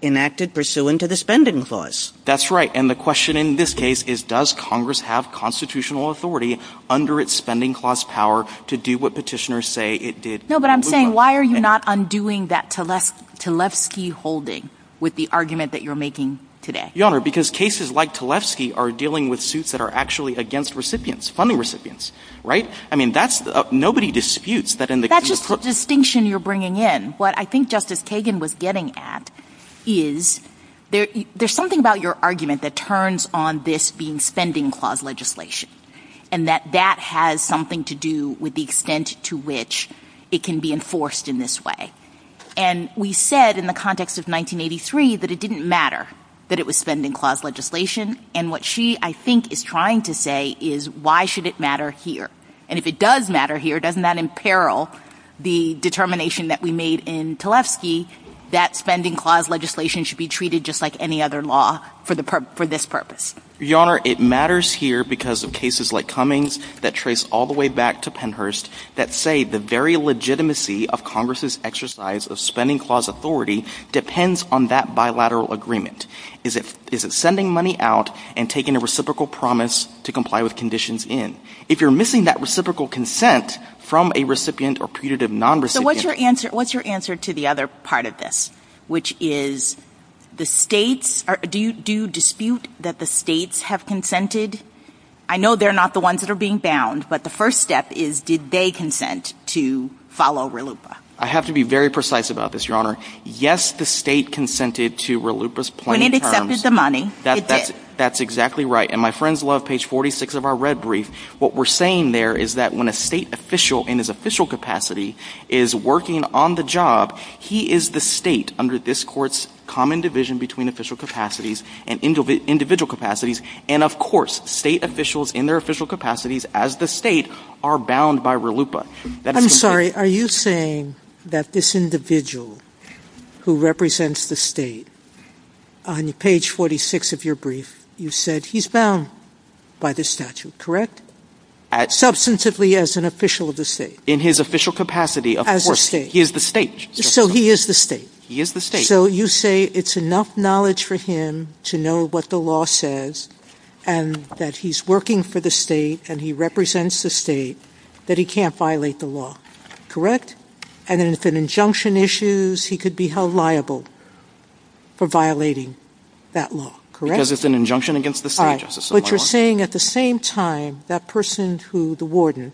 enacted pursuant to the Spending Clause. That's right. And the question in this case is does Congress have constitutional authority under its Spending Clause power to do what petitioners say it did? No, but I'm saying why are you not undoing that Tlefsky holding with the argument that you're making today? Your Honor, because cases like Tlefsky are dealing with suits that are actually against recipients, funding recipients, right? I mean that's – nobody disputes that in the – That's just a distinction you're bringing in. What I think Justice Kagan was getting at is there's something about your argument that turns on this being Spending Clause legislation. And that that has something to do with the extent to which it can be enforced in this way. And we said in the context of 1983 that it didn't matter that it was Spending Clause legislation. And what she, I think, is trying to say is why should it matter here? And if it does matter here, doesn't that imperil the determination that we made in Tlefsky that Spending Clause legislation should be treated just like any other law for this purpose? Your Honor, it matters here because of cases like Cummings that trace all the way back to Pennhurst that say the very legitimacy of Congress' exercise of Spending Clause authority depends on that bilateral agreement. Is it sending money out and taking a reciprocal promise to comply with conditions in? If you're missing that reciprocal consent from a recipient or predated non-recipient… So what's your answer to the other part of this, which is do you dispute that the states have consented? I know they're not the ones that are being bound, but the first step is did they consent to follow RLUIPA? I have to be very precise about this, Your Honor. Yes, the state consented to RLUIPA's plain terms. When it accepted the money, it did. That's exactly right. And my friends love page 46 of our red brief. What we're saying there is that when a state official in his official capacity is working on the job, he is the state under this Court's common division between official capacities and individual capacities. And of course, state officials in their official capacities as the state are bound by RLUIPA. I'm sorry. Are you saying that this individual who represents the state on page 46 of your brief, you said he's bound by this statute, correct? Substantively as an official of the state. In his official capacity, of course. He is the state. Correct? And if an injunction issues, he could be held liable for violating that law, correct? Because it's an injunction against the state justice. But you're saying at the same time, that person who, the warden,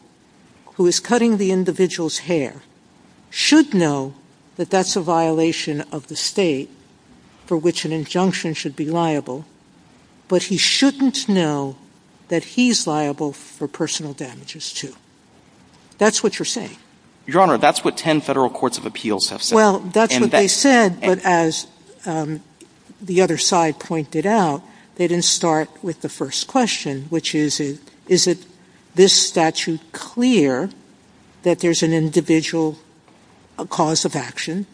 who is cutting the individual's hair, should know that that's a violation of the state for which an injunction should be liable, but he shouldn't know that he's liable for personal damages too. That's what you're saying. Your Honor, that's what 10 federal courts of appeals have said. Well, that's what they said, but as the other side pointed out, they didn't start with the first question, which is, is this statute clear that there's an individual cause of action?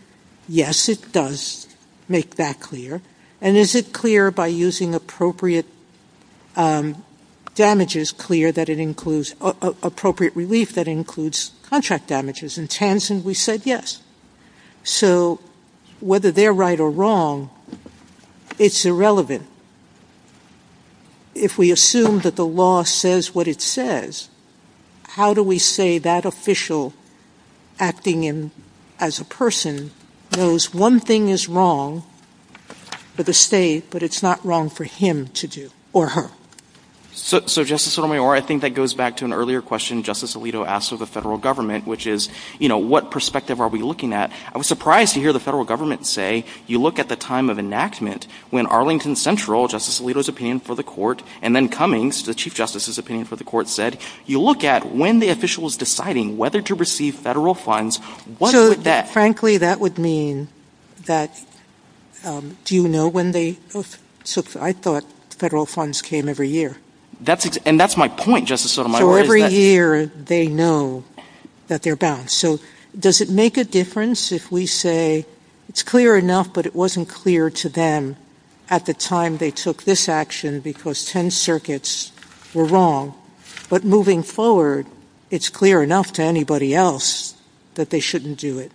Yes, it does make that clear. And is it clear by using appropriate damages clear that it includes, appropriate relief that includes contract damages? In Tansen, we said yes. So, whether they're right or wrong, it's irrelevant. If we assume that the law says what it says, how do we say that official acting as a person knows one thing is wrong for the state, but it's not wrong for him to do, or her? So, Justice Sotomayor, I think that goes back to an earlier question Justice Alito asked of the federal government, which is, what perspective are we looking at? I was surprised to hear the federal government say, you look at the time of enactment, when Arlington Central, Justice Alito's opinion for the court, and then Cummings, the Chief Justice's opinion for the court, said, you look at when the official is deciding whether to receive federal funds. So, frankly, that would mean that, do you know when they, I thought federal funds came every year. And that's my point, Justice Sotomayor. For every year, they know that they're bound. So, does it make a difference if we say, it's clear enough, but it wasn't clear to them at the time they took this action because 10 circuits were wrong, but moving forward, it's clear enough to anybody else that they shouldn't do it?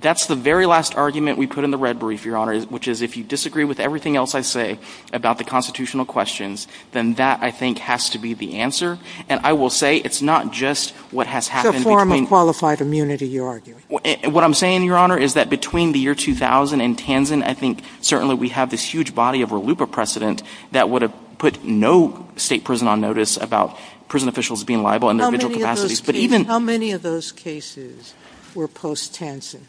That's the very last argument we put in the red brief, Your Honor, which is, if you disagree with everything else I say about the constitutional questions, then that, I think, has to be the answer. And I will say, it's not just what has happened. It's a form of qualified immunity, you're arguing. What I'm saying, Your Honor, is that between the year 2000 and Tanzan, I think, certainly, we have this huge body of RLUIPA precedent that would have put no state prison on notice about prison officials being liable in their individual capacities. How many of those cases were post-Tanzan?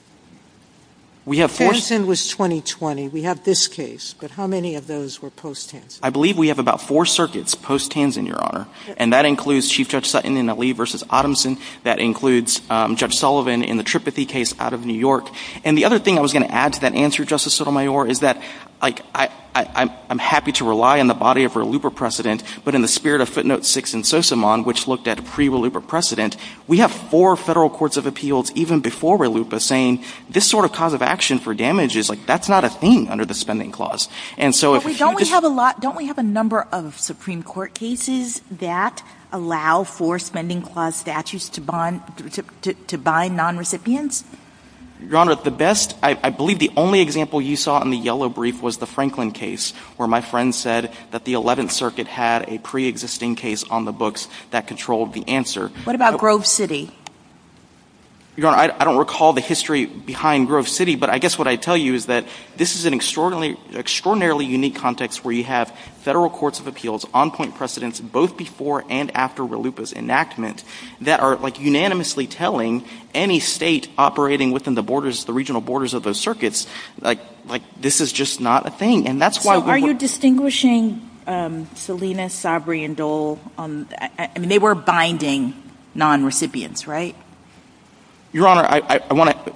Tanzan was 2020. We have this case. But how many of those were post-Tanzan? I believe we have about four circuits post-Tanzan, Your Honor. And that includes Chief Judge Sutton in the Lee v. Odomson. That includes Judge Sullivan in the Tripathi case out of New York. And the other thing I was going to add to that answer, Justice Sotomayor, is that I'm happy to rely on the body of RLUIPA precedent, but in the spirit of footnote six in Sosomon, which looked at pre-RLUIPA precedent, we have four federal courts of appeals even before RLUIPA saying this sort of cause of action for damages, that's not a thing under the spending clause. Don't we have a number of Supreme Court cases that allow for spending clause statutes to bind non-recipients? Your Honor, the best – I believe the only example you saw in the yellow brief was the Franklin case where my friend said that the 11th Circuit had a pre-existing case on the books that controlled the answer. What about Grove City? Your Honor, I don't recall the history behind Grove City, but I guess what I'd tell you is that this is an extraordinarily unique context where you have federal courts of appeals, on-point precedents, both before and after RLUIPA's enactment, that are unanimously telling any state operating within the regional borders of those circuits, this is just not a thing. So are you distinguishing Salinas, Sabri, and Dole? I mean, they were binding non-recipients, right? Your Honor, I want to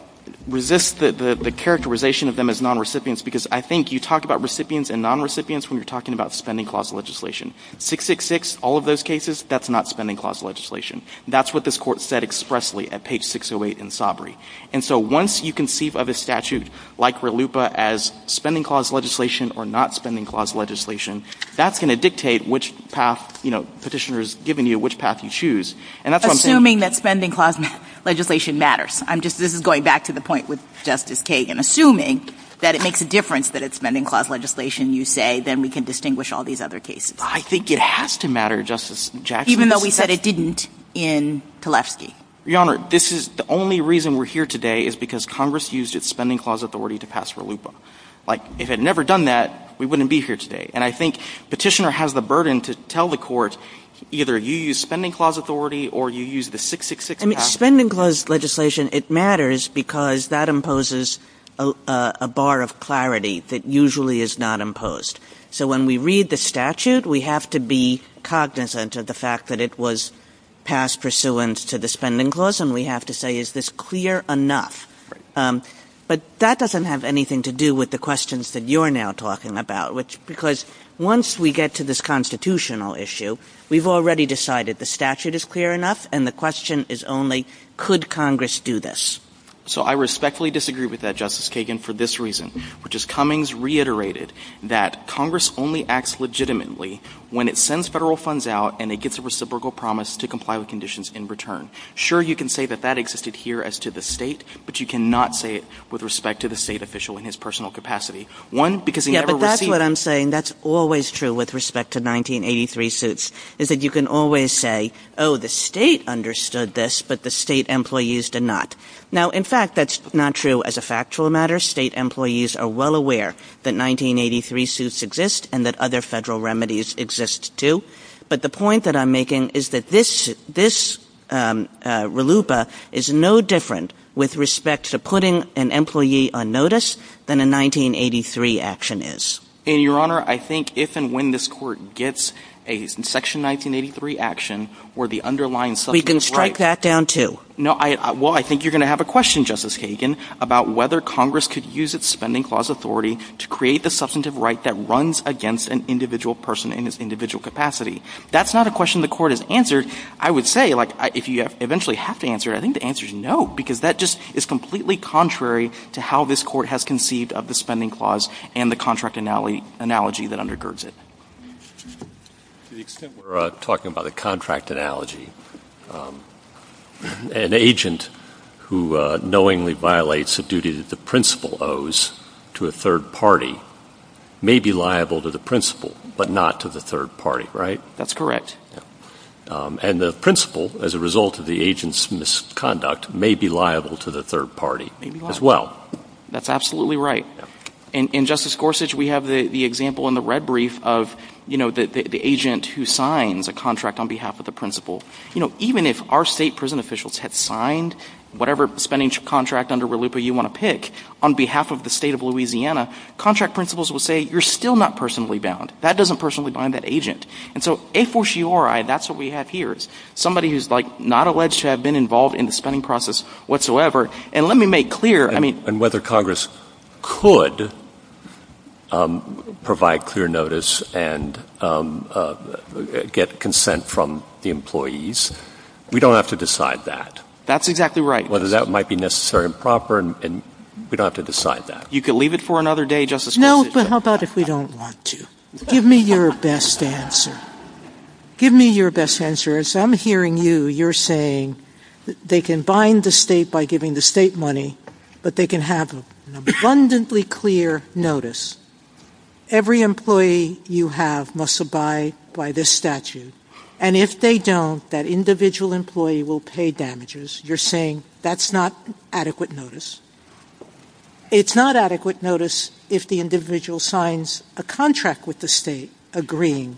resist the characterization of them as non-recipients because I think you talk about recipients and non-recipients when you're talking about spending clause legislation. 666, all of those cases, that's not spending clause legislation. That's what this Court said expressly at page 608 in Sabri. And so once you conceive of a statute like RLUIPA as spending clause legislation or not spending clause legislation, that's going to dictate which path, you know, Petitioner has given you, which path you choose. Assuming that spending clause legislation matters. I'm just – this is going back to the point with Justice Kagan. Assuming that it makes a difference that it's spending clause legislation, you say, then we can distinguish all these other cases. I think it has to matter, Justice Jackson. Even though we said it didn't in Pilevsky. Your Honor, this is – the only reason we're here today is because Congress used its spending clause authority to pass RLUIPA. Like, if it had never done that, we wouldn't be here today. And I think Petitioner has the burden to tell the Court, either you use spending clause authority or you use the 666. And spending clause legislation, it matters because that imposes a bar of clarity that usually is not imposed. So when we read the statute, we have to be cognizant of the fact that it was passed pursuant to the spending clause. And we have to say, is this clear enough? But that doesn't have anything to do with the questions that you're now talking about. Because once we get to this constitutional issue, we've already decided the statute is clear enough. And the question is only, could Congress do this? So I respectfully disagree with that, Justice Kagan, for this reason, which is Cummings reiterated that Congress only acts legitimately when it sends federal funds out and it gets a reciprocal promise to comply with conditions in return. Sure, you can say that that existed here as to the state, but you cannot say it with respect to the state official in his personal capacity. One, because he never received – with respect to 1983 suits, is that you can always say, oh, the state understood this, but the state employees did not. Now, in fact, that's not true as a factual matter. State employees are well aware that 1983 suits exist and that other federal remedies exist too. But the point that I'm making is that this RLUIPA is no different with respect to putting an employee on notice than a 1983 action is. And, Your Honor, I think if and when this Court gets a section 1983 action where the underlying – So you can strike that down too? Well, I think you're going to have a question, Justice Kagan, about whether Congress could use its spending clause authority to create the substantive right that runs against an individual person in its individual capacity. That's not a question the Court has answered. I would say, like, if you eventually have to answer it, I think the answer is no, because that just is completely contrary to how this Court has conceived of the spending clause and the contract analogy that undergirds it. To the extent we're talking about a contract analogy, an agent who knowingly violates a duty that the principal owes to a third party may be liable to the principal but not to the third party, right? That's correct. And the principal, as a result of the agent's misconduct, may be liable to the third party as well. That's absolutely right. In Justice Gorsuch, we have the example in the red brief of the agent who signs a contract on behalf of the principal. Even if our state prison officials had signed whatever spending contract under RLUIPA you want to pick on behalf of the state of Louisiana, contract principals would say, you're still not personally bound. That doesn't personally bind that agent. And so a fortiori, that's what we have here, is somebody who's not alleged to have been involved in the spending process whatsoever. And let me make clear – And whether Congress could provide clear notice and get consent from the employees, we don't have to decide that. That's exactly right. Whether that might be necessary and proper, we don't have to decide that. You could leave it for another day, Justice Gorsuch. No, but how about if we don't want to? Give me your best answer. Give me your best answer. As I'm hearing you, you're saying they can bind the state by giving the state money, but they can have abundantly clear notice. Every employee you have must abide by this statute. And if they don't, that individual employee will pay damages. You're saying that's not adequate notice. It's not adequate notice if the individual signs a contract with the state agreeing,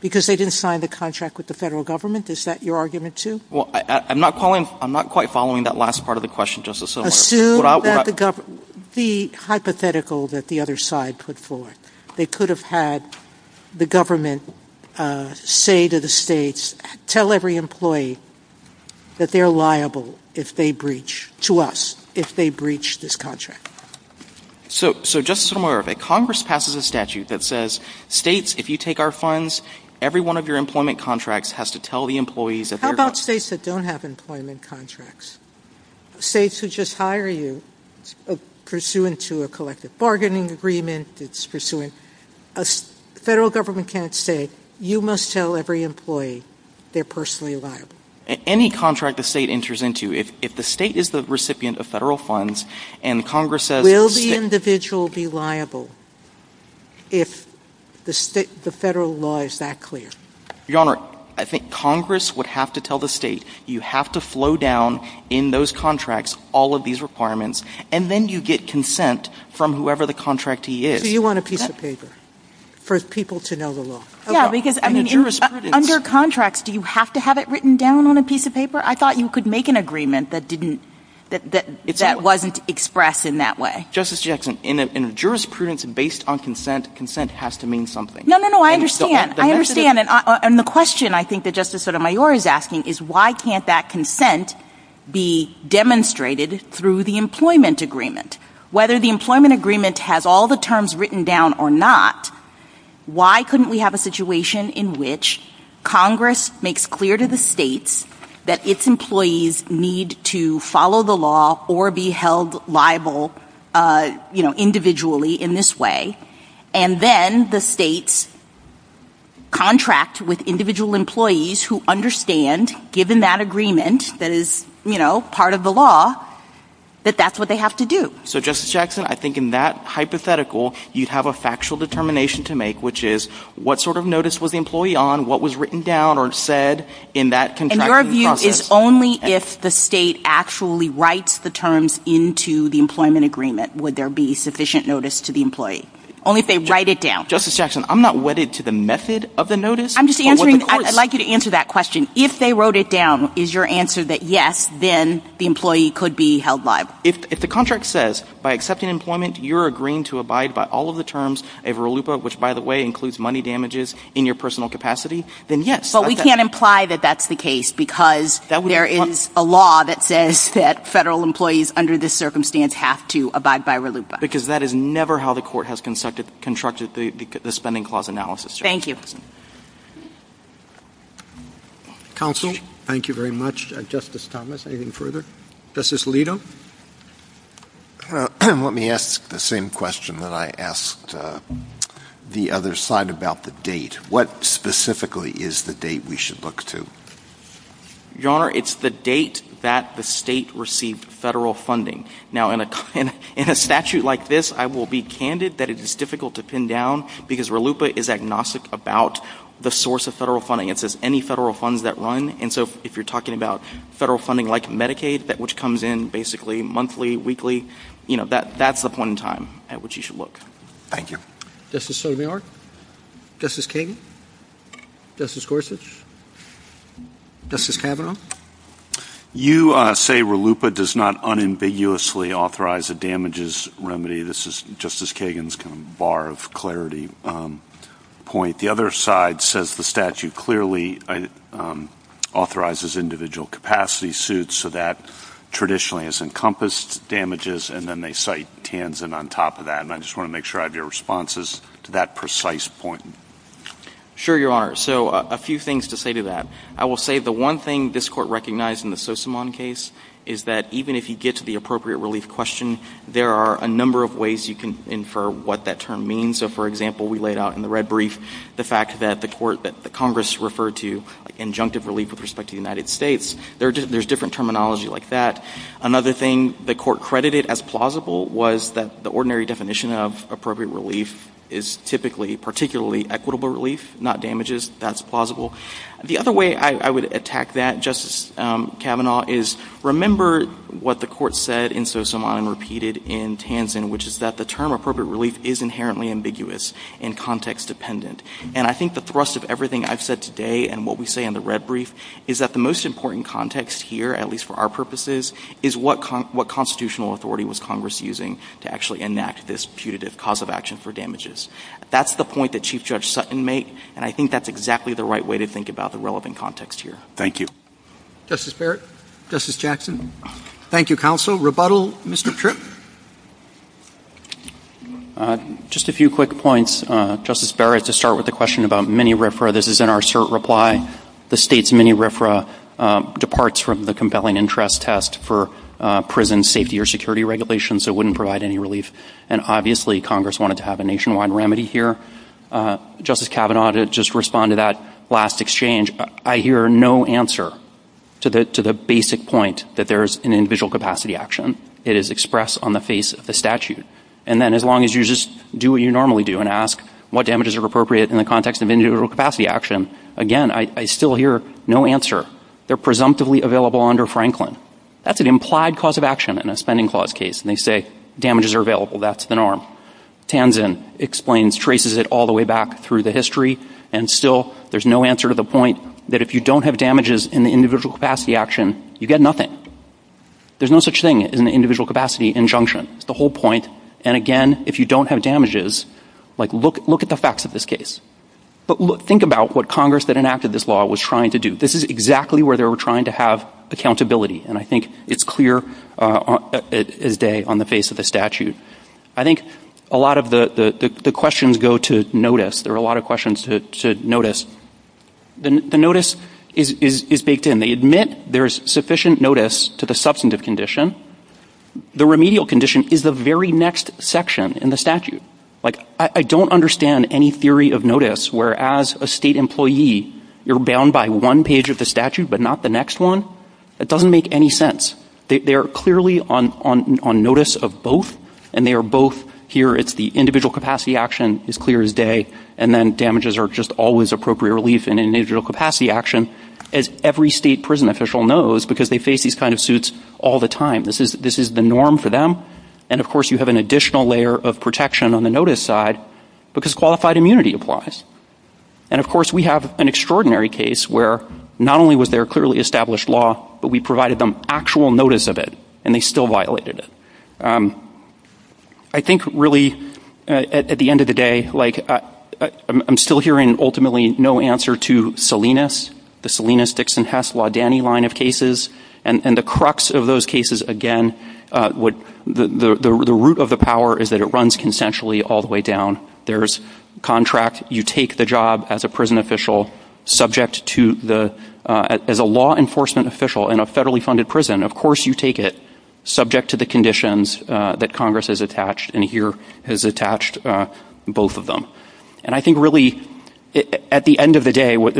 because they didn't sign the contract with the federal government. Is that your argument, too? I'm not quite following that last part of the question, Justice Sotomayor. Assume that the hypothetical that the other side put forth, they could have had the government say to the states, tell every employee that they're liable to us if they breach this contract. So, Justice Sotomayor, if Congress passes a statute that says, states, if you take our funds, every one of your employment contracts has to tell the employees that they're liable. How about states that don't have employment contracts? States who just hire you, pursuant to a collective bargaining agreement, federal government can't say, you must tell every employee they're personally liable. Any contract the state enters into, if the state is the recipient of federal funds, and Congress says— Will the individual be liable if the federal law is that clear? Your Honor, I think Congress would have to tell the state, you have to flow down in those contracts all of these requirements, and then you get consent from whoever the contractee is. Do you want a piece of paper for people to know the law? Yeah, because under contracts, do you have to have it written down on a piece of paper? I thought you could make an agreement that wasn't expressed in that way. Justice Judd, in a jurisprudence based on consent, consent has to mean something. No, no, no, I understand. I understand. And the question I think that Justice Sotomayor is asking is, why can't that consent be demonstrated through the employment agreement? Whether the employment agreement has all the terms written down or not, why couldn't we have a situation in which Congress makes clear to the states that its employees need to follow the law or be held liable individually in this way, and then the states contract with individual employees who understand, given that agreement that is part of the law, that that's what they have to do. So Justice Jackson, I think in that hypothetical, you'd have a factual determination to make, which is what sort of notice was the employee on, what was written down or said in that contracting process. And your view is only if the state actually writes the terms into the employment agreement would there be sufficient notice to the employee, only if they write it down. Justice Jackson, I'm not wedded to the method of the notice. I'd like you to answer that question. If they wrote it down, is your answer that yes, then the employee could be held liable? If the contract says, by accepting employment, you're agreeing to abide by all of the terms of RLUIPA, which, by the way, includes money damages in your personal capacity, then yes. But we can't imply that that's the case, because there is a law that says that federal employees under this circumstance have to abide by RLUIPA. Because that is never how the court has constructed the spending clause analysis. Thank you. Counsel? Thank you very much. Justice Thomas, anything further? Justice Alito? Let me ask the same question that I asked the other side about the date. What specifically is the date we should look to? Your Honor, it's the date that the state received federal funding. Now, in a statute like this, I will be candid that it is difficult to pin down, because RLUIPA is agnostic about the source of federal funding. It says any federal funds that run. And so if you're talking about federal funding like Medicaid, which comes in basically monthly, weekly, that's the point in time at which you should look. Thank you. Justice Sotomayor? Justice Kagan? Justice Gorsuch? Justice Kavanaugh? You say RLUIPA does not unambiguously authorize a damages remedy. This is Justice Kagan's kind of bar of clarity point. The other side says the statute clearly authorizes individual capacity suits, so that traditionally has encompassed damages, and then they cite Tansin on top of that. And I just want to make sure I have your responses to that precise point. Sure, Your Honor. So a few things to say to that. I will say the one thing this Court recognized in the Sosimon case is that even if you get to the appropriate relief question, there are a number of ways you can infer what that term means. So, for example, we laid out in the red brief the fact that the Congress referred to injunctive relief with respect to the United States. There's different terminology like that. Another thing the Court credited as plausible was that the ordinary definition of appropriate relief is typically particularly equitable relief, not damages. That's plausible. The other way I would attack that, Justice Kavanaugh, is remember what the Court said in Sosimon and repeated in Tansin, which is that the term appropriate relief is inherently ambiguous and context-dependent. And I think the thrust of everything I've said today and what we say in the red brief is that the most important context here, at least for our purposes, is what constitutional authority was Congress using to actually enact this putative cause of action for damages. That's the point that Chief Judge Sutton made, and I think that's exactly the right way to think about the relevant context here. Thank you. Justice Barrett? Justice Jackson? Thank you, Counsel. Rebuttal, Mr. Tripp? Just a few quick points, Justice Barrett, to start with the question about mini RFRA. This is in our cert reply. The state's mini RFRA departs from the compelling interest test for prison safety or security regulations, so it wouldn't provide any relief. And obviously Congress wanted to have a nationwide remedy here. Justice Kavanaugh, to just respond to that last exchange, I hear no answer to the basic point that there's an individual capacity action. It is expressed on the face of the statute. And then as long as you just do what you normally do and ask what damages are appropriate in the context of individual capacity action, again, I still hear no answer. They're presumptively available under Franklin. That's an implied cause of action in a spending clause case, and they say damages are available. That's an arm. Tanzen explains, traces it all the way back through the history, and still there's no answer to the point that if you don't have damages in the individual capacity action, you get nothing. There's no such thing as an individual capacity injunction. It's the whole point. And again, if you don't have damages, like, look at the facts of this case. But think about what Congress that enacted this law was trying to do. This is exactly where they were trying to have accountability, and I think it's clear as day on the face of the statute. I think a lot of the questions go to notice. There are a lot of questions to notice. The notice is baked in. They admit there's sufficient notice to the substantive condition. The remedial condition is the very next section in the statute. Like, I don't understand any theory of notice where, as a state employee, you're bound by one page of the statute but not the next one. That doesn't make any sense. They are clearly on notice of both, and they are both, here it's the individual capacity action is clear as day, and then damages are just always appropriate relief in an individual capacity action. As every state prison official knows, because they face these kind of suits all the time, this is the norm for them. And, of course, you have an additional layer of protection on the notice side because qualified immunity applies. And, of course, we have an extraordinary case where not only was there clearly established law, but we provided them actual notice of it, and they still violated it. I think, really, at the end of the day, like, I'm still hearing ultimately no answer to Salinas, the Salinas, Dixon, Hess, Laudani line of cases, and the crux of those cases, again, the root of the power is that it runs consensually all the way down. There's contract. You take the job as a prison official subject to the law enforcement official in a federally funded prison. Of course you take it subject to the conditions that Congress has attached, and here has attached both of them. And I think, really, at the end of the day, what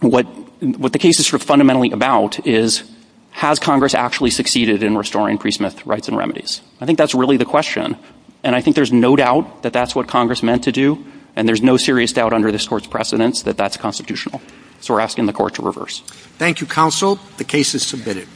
the case is fundamentally about is, has Congress actually succeeded in restoring pre-Smith rights and remedies? I think that's really the question. And I think there's no doubt that that's what Congress meant to do, and there's no serious doubt under this Court's precedence that that's constitutional. So we're asking the Court to reverse. Thank you, Counsel. The case is submitted.